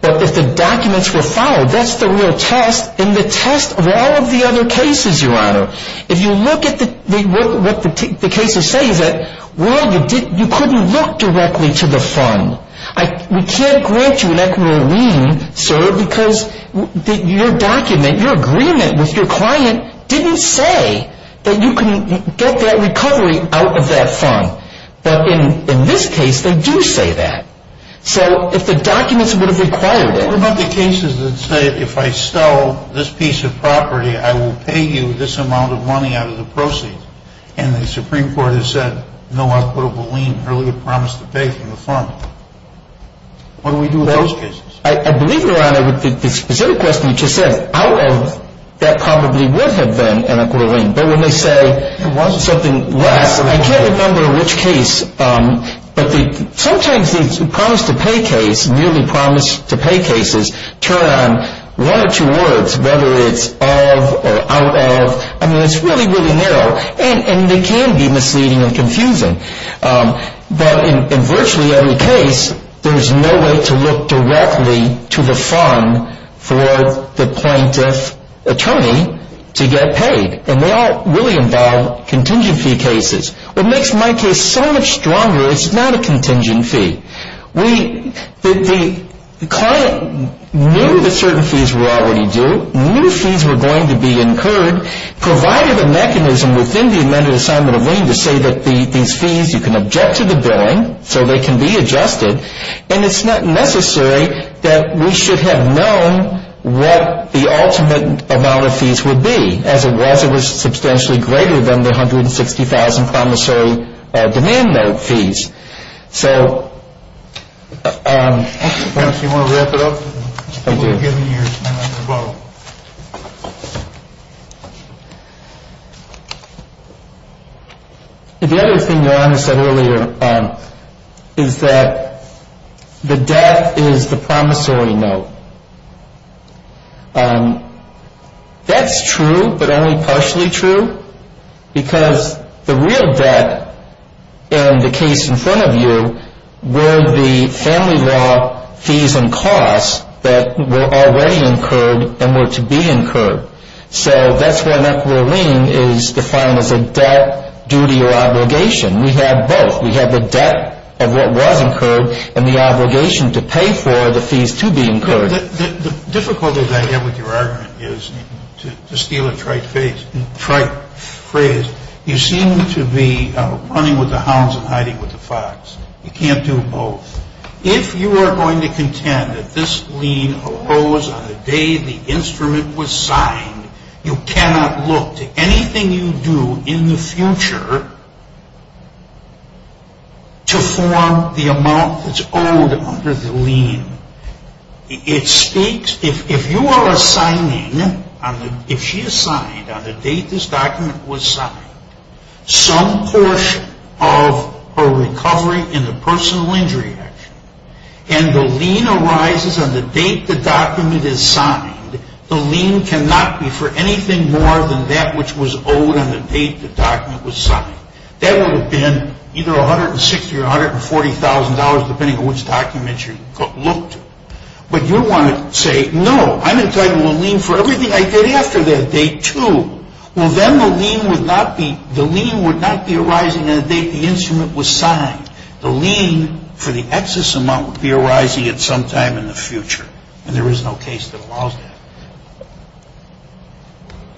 But if the documents were followed, that's the real test, and the test of all of the other cases, Your Honor. If you look at what the case is saying, that, well, you couldn't look directly to the fund. We can't grant you an equitable lien, say, because your document, your agreement with your client, didn't say that you can get that recovery out of that fund. But in this case, they do say that. So, if the documents would have been followed, what about the cases that say, if I sell this piece of property, I will pay you this amount of money out of the proceeds, and the Supreme Court has said, no, I'll put up a lien, or you promise to pay from the fund. What do we do in those cases? I believe, Your Honor, that the specific question you just asked, however, that probably would have been an equitable lien. I can't remember which case, but sometimes these promise-to-pay cases turn on one or two words, whether it's of or out of. I mean, it's really, really narrow. And they can be misleading and confusing. But in virtually every case, there is no way to look directly to the fund for the plaintiff's attorney to get paid. And they all really involve contingency cases. What makes my case so much stronger is it's not a contingency. The client knew that certain fees were already due, knew fees were going to be incurred, provided a mechanism within the amended assignment of lien to say that these fees, you can object to the bond so they can be adjusted, and it's not necessary that we should have known what the ultimate amount of fees would be, as it wasn't substantially greater than the $160,000 promissory demand note fees. So the other thing Your Honor said earlier is that the debt is the promissory note. That's true, but only partially true, because the real debt in the case in front of you were the family law fees and costs that were already incurred and were to be incurred. So that's why an equitable lien is defined as a debt, duty, or obligation. We have both. We have the debt of what was incurred and the obligation to pay for the fees to be incurred. The difficulty that I have with your argument is, to steal a trite phrase, you seem to be running with the hounds and hiding with the fox. You can't do both. If you are going to contend that this lien arose on the day the instrument was signed, you cannot look to anything you do in the future to form the amount that's owed under the lien. It states, if you are assigning, if she assigned on the date this document was signed, some portion of her recovery in the personal injury action, and the lien arises on the date the document is signed, the lien cannot be for anything more than that which was owed on the date the document was signed. That would have been either $160,000 or $140,000, depending on which document you looked to. But you want to say, no, I'm entitled to a lien for everything I did after that date, too. Well, then the lien would not be arising on the date the instrument was signed. The lien for the excess amount would be arising at some time in the future, and there is no case that allows that.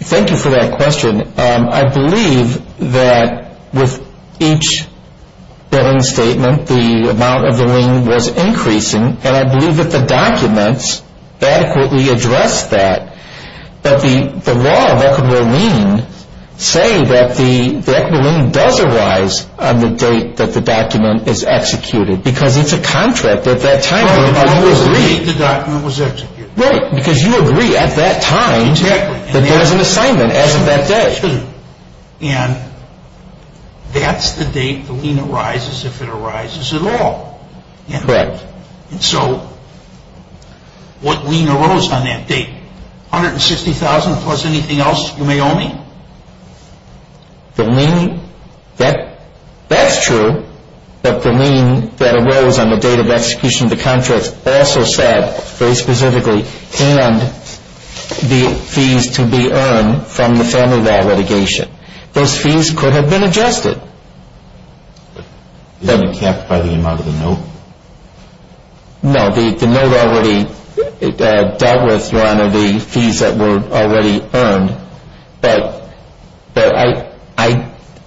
Thank you for that question. I believe that with each debtor's statement, the amount of the lien was increasing, and I believe that the documents adequately address that. But the law of equity of the lien says that the equity of the lien does arise on the date that the document is executed, because it's a contract at that time. Right, because you agreed the document was executed. Right, because you agreed at that time that there was an assignment as of that date. And that's the date the lien arises if it arises at all. Correct. And so, what lien arose on that date? $160,000 plus anything else you may owe me? The lien, that's true that the lien that arose on the date of execution of the contract also said very specifically, and the fees to be earned from the sum of that litigation. Those fees could have been adjusted. You didn't specify the amount of the note? No, the note already, that was one of the fees that were already earned. But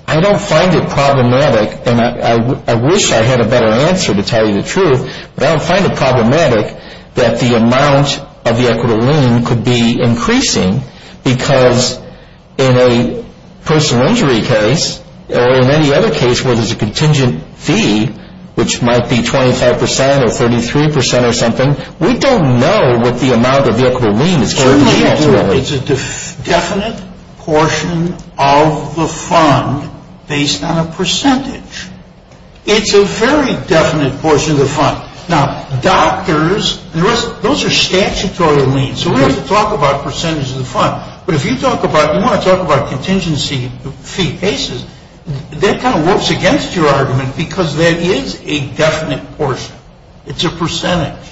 I don't find it problematic, and I wish I had a better answer to tell you the truth, but I don't find it problematic that the amount of the equity of the lien could be increasing, because in a personal injury case or in any other case where there's a contingent fee, which might be 25% or 33% or something, we don't know what the amount of the equity of the lien is. It's a definite portion of the fund based on a percentage. It's a very definite portion of the fund. Now, doctors, those are statutory liens. So we're going to talk about percentages of the fund. But if you want to talk about contingency fee basis, that kind of works against your argument, because that is a definite portion. It's a percentage.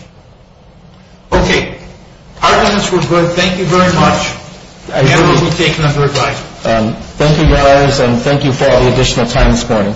Okay. Our time is over. Thank you very much. I have the location under a guide. Thank you, guys, and thank you for all the additional time this morning. Thank you.